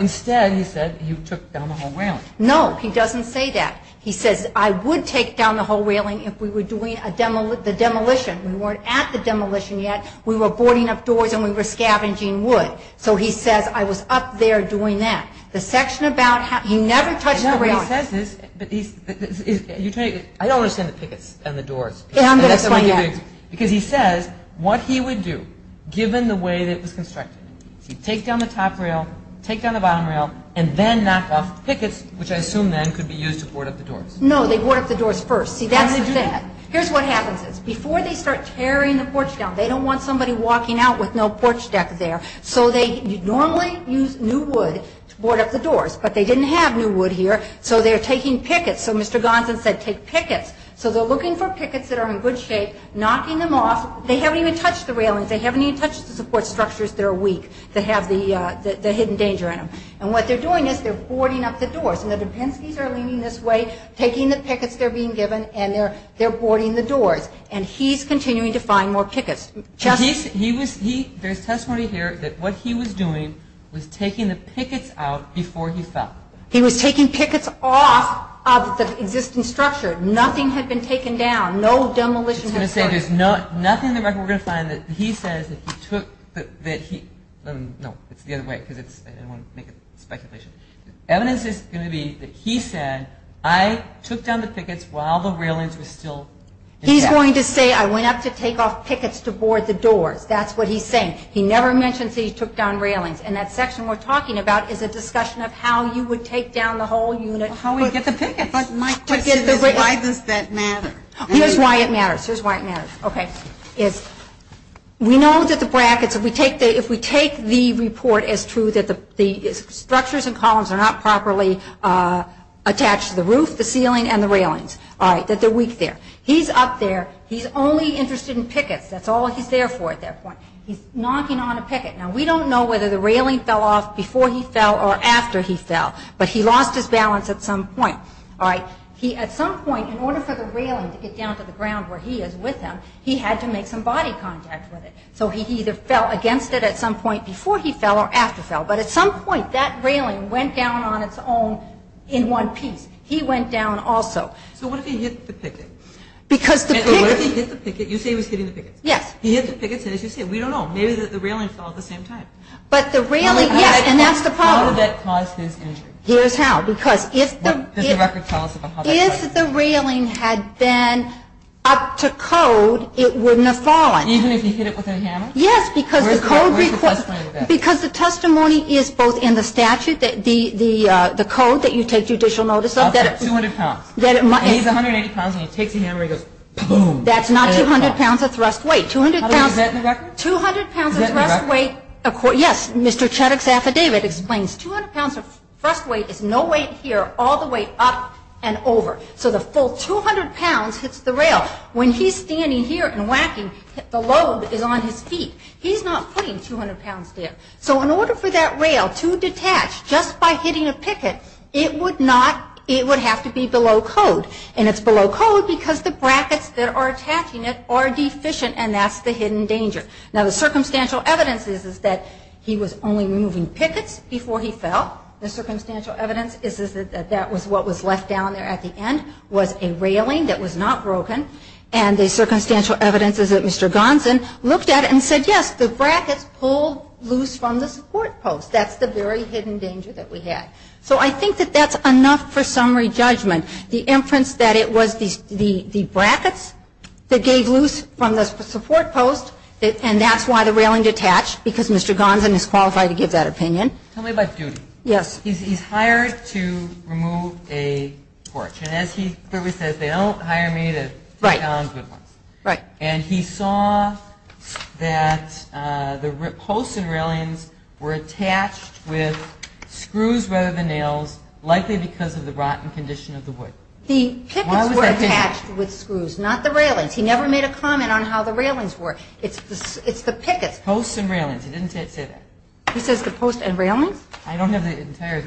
Instead, he said, you took down the whole railing. No, he doesn't say that. He says, I would take down the whole railing if we were doing the demolition. We weren't at the demolition yet. We were boarding up doors and we were scavenging wood. So he says, I was up there doing that. The section about how he never touched the railing. No, he says this, but I don't understand the pickets and the doors. And I'm going to explain that. Because he says, what he would do, given the way that it was constructed, is he'd take down the top rail, take down the bottom rail, and then knock off pickets, which I assume then could be used to board up the doors. No, they board up the doors first. See, that's the thing. Here's what happens is, before they start tearing the porch down, they don't want somebody walking out with no porch deck there. So they normally use new wood to board up the doors, but they didn't have new wood here. So they're taking pickets. So Mr. Gonson said, take pickets. So they're looking for pickets that are in good shape, knocking them off. They haven't even touched the railings. They haven't even touched the support structures that are weak, that have the hidden danger in them. And what they're doing is they're boarding up the doors. And the Dubinskys are leaning this way, taking the pickets they're being given, and they're boarding the doors. And he's continuing to find more pickets. There's testimony here that what he was doing was taking the pickets out before he fell. He was taking pickets off of the existing structure. Nothing had been taken down. No demolition had started. There's nothing in the record we're going to find that he says that he took that he – no, it's the other way because I don't want to make a speculation. Evidence is going to be that he said, I took down the pickets while the railings were still intact. He's going to say, I went up to take off pickets to board the doors. That's what he's saying. He never mentions that he took down railings. And that section we're talking about is a discussion of how you would take down the whole unit. How we get the pickets. But my question is, why does that matter? Here's why it matters. Here's why it matters. We know that the brackets, if we take the report as true that the structures and columns are not properly attached to the roof, the ceiling, and the railings, that they're weak there. He's up there. He's only interested in pickets. That's all he's there for at that point. He's knocking on a picket. Now, we don't know whether the railing fell off before he fell or after he fell. But he lost his balance at some point. At some point, in order for the railing to get down to the ground where he is with him, he had to make some body contact with it. So he either fell against it at some point before he fell or after he fell. But at some point, that railing went down on its own in one piece. He went down also. So what if he hit the picket? Because the picket. What if he hit the picket? You say he was hitting the pickets. Yes. He hit the pickets. And as you say, we don't know. Maybe the railing fell at the same time. But the railing, yes. And that's the problem. How did that cause his injury? Here's how. Because if the railing had been up to code, it wouldn't have fallen. Even if he hit it with a hammer? Yes. Because the testimony is both in the statute, the code that you take judicial notice of. I'll say 200 pounds. And he's 180 pounds and he takes a hammer and he goes, boom. That's not 200 pounds of thrust weight. Is that in the record? 200 pounds of thrust weight. Is that in the record? Yes. Mr. Chudik's affidavit explains 200 pounds of thrust weight is no weight here, all the weight up and over. So the full 200 pounds hits the rail. When he's standing here and whacking, the load is on his feet. He's not putting 200 pounds there. So in order for that rail to detach just by hitting a picket, it would have to be below code. And it's below code because the brackets that are attaching it are deficient, and that's the hidden danger. Now, the circumstantial evidence is that he was only removing pickets before he fell. The circumstantial evidence is that that was what was left down there at the end was a railing that was not broken. And the circumstantial evidence is that Mr. Gonson looked at it and said, yes, the brackets pulled loose from the support post. That's the very hidden danger that we had. So I think that that's enough for summary judgment. The inference that it was the brackets that gave loose from the support post, and that's why the railing detached, because Mr. Gonson is qualified to give that opinion. Tell me about duty. Yes. He's hired to remove a porch. And as he clearly says, they don't hire me to take on good ones. Right. And he saw that the posts and railings were attached with screws rather than nails, likely because of the rotten condition of the wood. The pickets were attached with screws, not the railings. He never made a comment on how the railings were. It's the pickets. Posts and railings. He didn't say that. He says the posts and railings? I don't have the entire.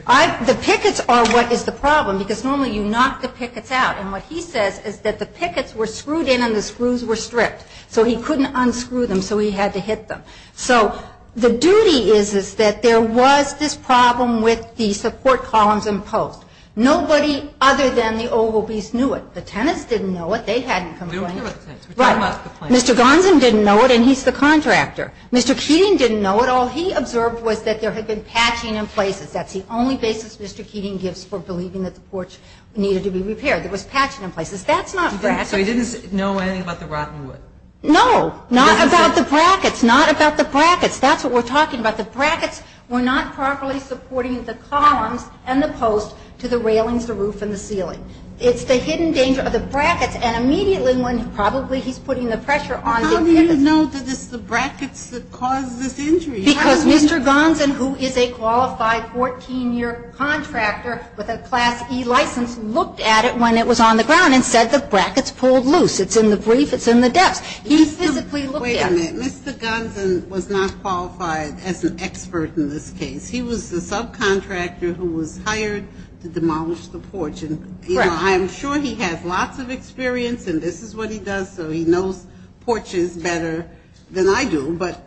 The pickets are what is the problem, because normally you knock the pickets out. And what he says is that the pickets were screwed in and the screws were stripped. So he couldn't unscrew them, so he had to hit them. So the duty is, is that there was this problem with the support columns and posts. Nobody other than the OVBs knew it. The tenants didn't know it. They hadn't complained. We don't care about the tenants. We care about the plan. Right. Mr. Gonson didn't know it, and he's the contractor. Mr. Keating didn't know it. All he observed was that there had been patching in places. That's the only basis Mr. Keating gives for believing that the porch needed to be repaired. There was patching in places. That's not fracking. So he didn't know anything about the rotten wood. No. Not about the brackets. It's not about the brackets. That's what we're talking about. The brackets were not properly supporting the columns and the posts to the railings, the roof, and the ceiling. It's the hidden danger of the brackets, and immediately when probably he's putting the pressure on the pickets. How do you know that it's the brackets that caused this injury? Because Mr. Gonson, who is a qualified 14-year contractor with a Class E license, looked at it when it was on the ground and said the brackets pulled loose. It's in the brief. It's in the depths. He physically looked at it. Wait a minute. Mr. Gonson was not qualified as an expert in this case. He was the subcontractor who was hired to demolish the porch. Right. And I'm sure he has lots of experience, and this is what he does, so he knows porches better than I do. But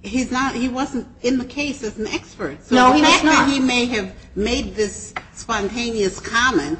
he wasn't in the case as an expert. No, he was not. So the fact that he may have made this spontaneous comment,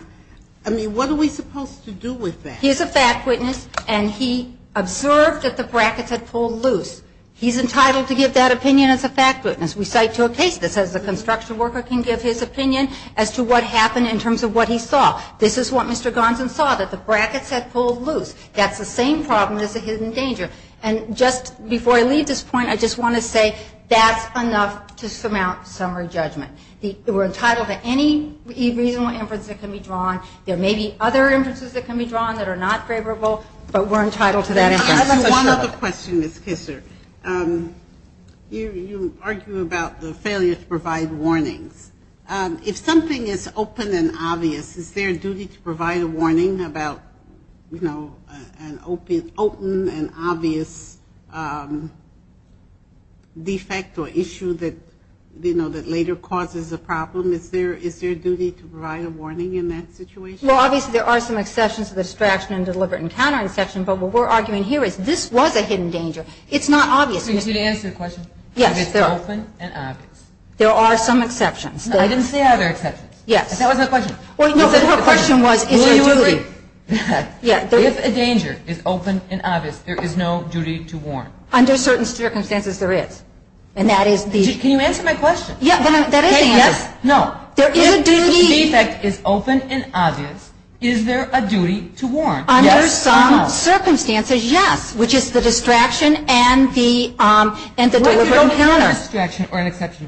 I mean, what are we supposed to do with that? He is a fact witness, and he observed that the brackets had pulled loose. He's entitled to give that opinion as a fact witness. We cite to a case that says the construction worker can give his opinion as to what happened in terms of what he saw. This is what Mr. Gonson saw, that the brackets had pulled loose. That's the same problem as the hidden danger. And just before I leave this point, I just want to say that's enough to surmount summary judgment. We're entitled to any reasonable inference that can be drawn. There may be other inferences that can be drawn that are not favorable, but we're entitled to that inference. One other question, Ms. Kisser. You argue about the failure to provide warnings. If something is open and obvious, is there a duty to provide a warning about, you know, an open and obvious defect or issue that, you know, that later causes a problem? Is there a duty to provide a warning in that situation? Well, obviously, there are some exceptions to the distraction and deliberate encounter exception, but what we're arguing here is this was a hidden danger. It's not obvious. Excuse me. Did you answer the question? Yes. If it's open and obvious. There are some exceptions. I didn't say other exceptions. Yes. That was my question. Well, no, her question was is there a duty. Well, you agree. If a danger is open and obvious, there is no duty to warn. Under certain circumstances, there is. And that is the... Can you answer my question? Yes, that is the answer. Yes. No. There is a duty... If the defect is open and obvious, is there a duty to warn? Yes or no. Under some circumstances, yes, which is the distraction and the deliberate encounter.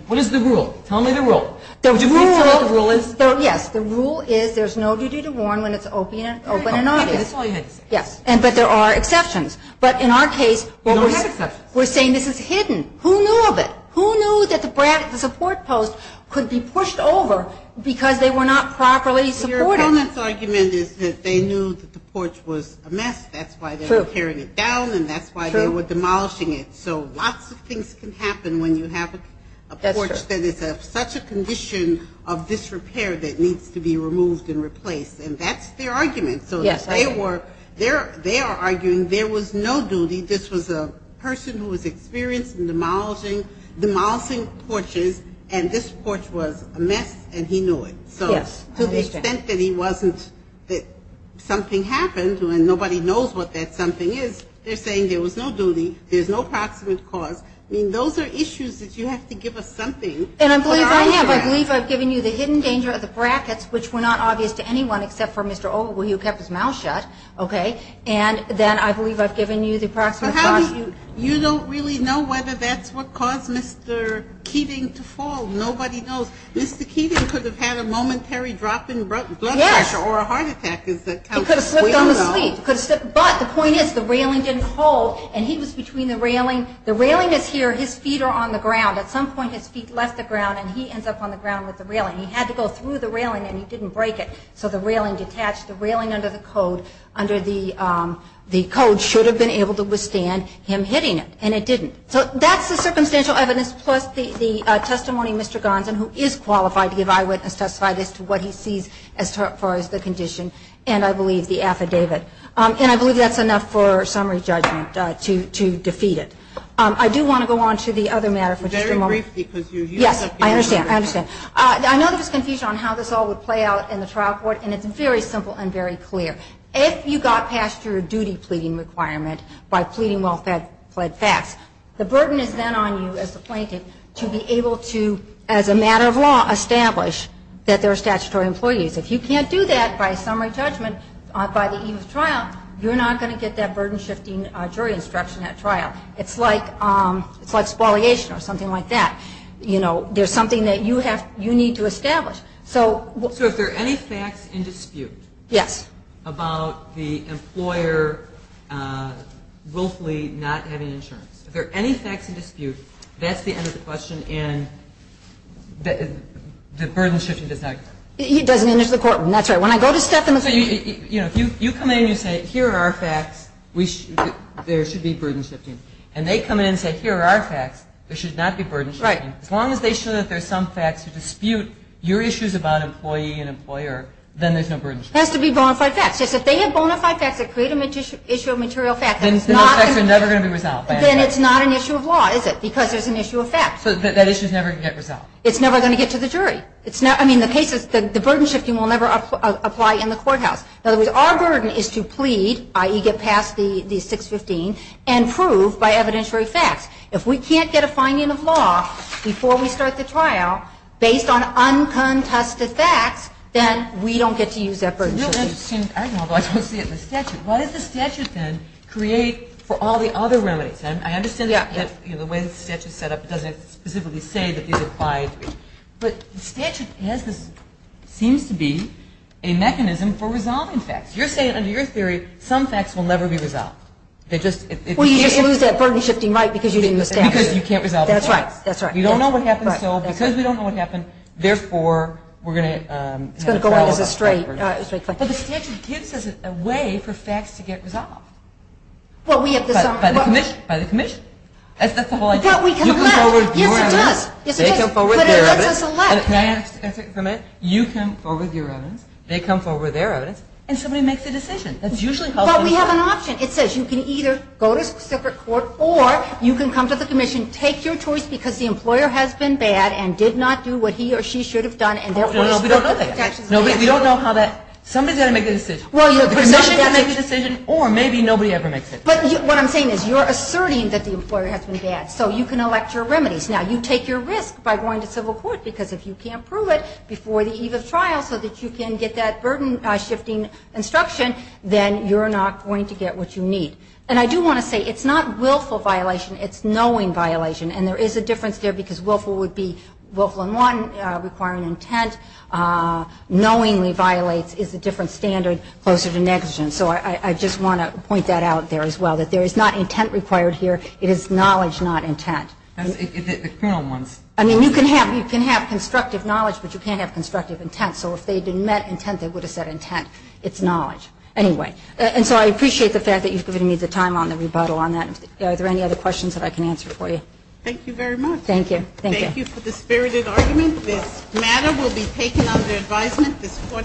What is the rule? Tell me the rule. The rule... Can you tell me what the rule is? Yes. The rule is there's no duty to warn when it's open and obvious. Okay. That's all you had to say. Yes. But there are exceptions. But in our case... We don't have exceptions. We're saying this is hidden. Who knew of it? Who knew that the support post could be pushed over because they were not properly supported? Your opponent's argument is that they knew that the porch was a mess. True. That's why they were tearing it down. True. And that's why they were demolishing it. So lots of things can happen when you have a porch... That's true. ...that is of such a condition of disrepair that needs to be removed and replaced. And that's their argument. Yes, I agree. So they are arguing there was no duty. This was a person who was experienced in demolishing porches, and this porch was a mess, and he knew it. Yes. So to the extent that he wasn't that something happened when nobody knows what that something is, they're saying there was no duty, there's no proximate cause. I mean, those are issues that you have to give us something... And I believe I have. I believe I've given you the hidden danger of the brackets, which were not obvious to anyone except for Mr. Ogilvie, who kept his mouth shut. Okay. And then I believe I've given you the proximate cause. So how do you... You don't really know whether that's what caused Mr. Keating to fall. Nobody knows. Mr. Keating could have had a momentary drop in blood pressure... Yes. ...or a heart attack, is the count. He could have slipped on the sleeve. We don't know. But the point is, the railing didn't hold, and he was between the railing. The railing is here. His feet are on the ground. At some point, his feet left the ground, and he ends up on the ground with the railing. He had to go through the railing, and he didn't break it. So the railing detached. The railing under the code should have been able to withstand him hitting it, and it didn't. So that's the circumstantial evidence, plus the testimony of Mr. Gonson, who is qualified to give eyewitness testimony as to what he sees as far as the condition, and I believe the affidavit. And I believe that's enough for summary judgment to defeat it. I do want to go on to the other matter for just a moment. Very briefly, because you... Yes, I understand. I understand. I know there's confusion on how this all would play out in the trial court, and it's very simple and very clear. If you got past your duty pleading requirement by pleading well-fed facts, the burden is then on you as the plaintiff to be able to, as a matter of law, establish that there are statutory employees. If you can't do that by summary judgment by the eve of trial, you're not going to get that burden-shifting jury instruction at trial. It's like spoliation or something like that. There's something that you need to establish. So... So if there are any facts in dispute... Yes. ...about the employer willfully not having insurance, if there are any facts in dispute, that's the end of the question, and the burden-shifting does not exist. It doesn't exist in the courtroom. That's right. When I go to Stephen... So you come in and you say, here are our facts. There should be burden-shifting. And they come in and say, here are our facts. There should not be burden-shifting. Right. As long as they show that there are some facts to dispute your issues about employee and employer, then there's no burden-shifting. It has to be bona fide facts. If they have bona fide facts that create an issue of material facts... Then those facts are never going to be resolved. ...then it's not an issue of law, is it, because there's an issue of facts. So that issue is never going to get resolved. It's never going to get to the jury. I mean, the burden-shifting will never apply in the courthouse. In other words, our burden is to plead, i.e., get past the 615, and prove by evidentiary facts. If we can't get a finding of law before we start the trial, based on uncontested facts, then we don't get to use that burden-shifting. I don't see it in the statute. Why does the statute then create for all the other remedies? I understand that the way the statute is set up doesn't specifically say that these apply to me. But the statute seems to be a mechanism for resolving facts. You're saying, under your theory, some facts will never be resolved. Well, you just lose that burden-shifting right because you didn't use the statute. Because you can't resolve the facts. That's right. We don't know what happened, so because we don't know what happened, therefore, we're going to have a trial that's not burden-shifting. But the statute gives us a way for facts to get resolved. By the commission. That's the whole idea. But we can let... Yes, it does. They come forward with their evidence. But it lets us elect. May I ask a second comment? You come forward with your evidence, they come forward with their evidence, and somebody makes a decision. That's usually how it is. But we have an option. It says you can either go to a separate court or you can come to the commission, take your choice because the employer has been bad and did not do what he or she should have done and they're worse for the protections. No, we don't know that. We don't know how that... Somebody's got to make a decision. Well, your position is... Somebody's got to make a decision or maybe nobody ever makes it. But what I'm saying is you're asserting that the employer has been bad, so you can elect your remedies. Now, you take your risk by going to civil court because if you can't prove it before the eve of trial so that you can get that burden-shifting instruction, then you're not going to get what you need. And I do want to say it's not willful violation. It's knowing violation. And there is a difference there because willful would be willful in one, requiring intent. Knowingly violates is a different standard, closer to negligence. So I just want to point that out there as well, that there is not intent required here. It is knowledge, not intent. The criminal ones... I mean, you can have constructive knowledge, but you can't have constructive intent. So if they had meant intent, they would have said intent. It's knowledge. Anyway. And so I appreciate the fact that you've given me the time on the rebuttal on that. Are there any other questions that I can answer for you? Thank you very much. Thank you. Thank you. Thank you for the spirited argument. This matter will be taken under advisement. This Court is adjourned. Thank you.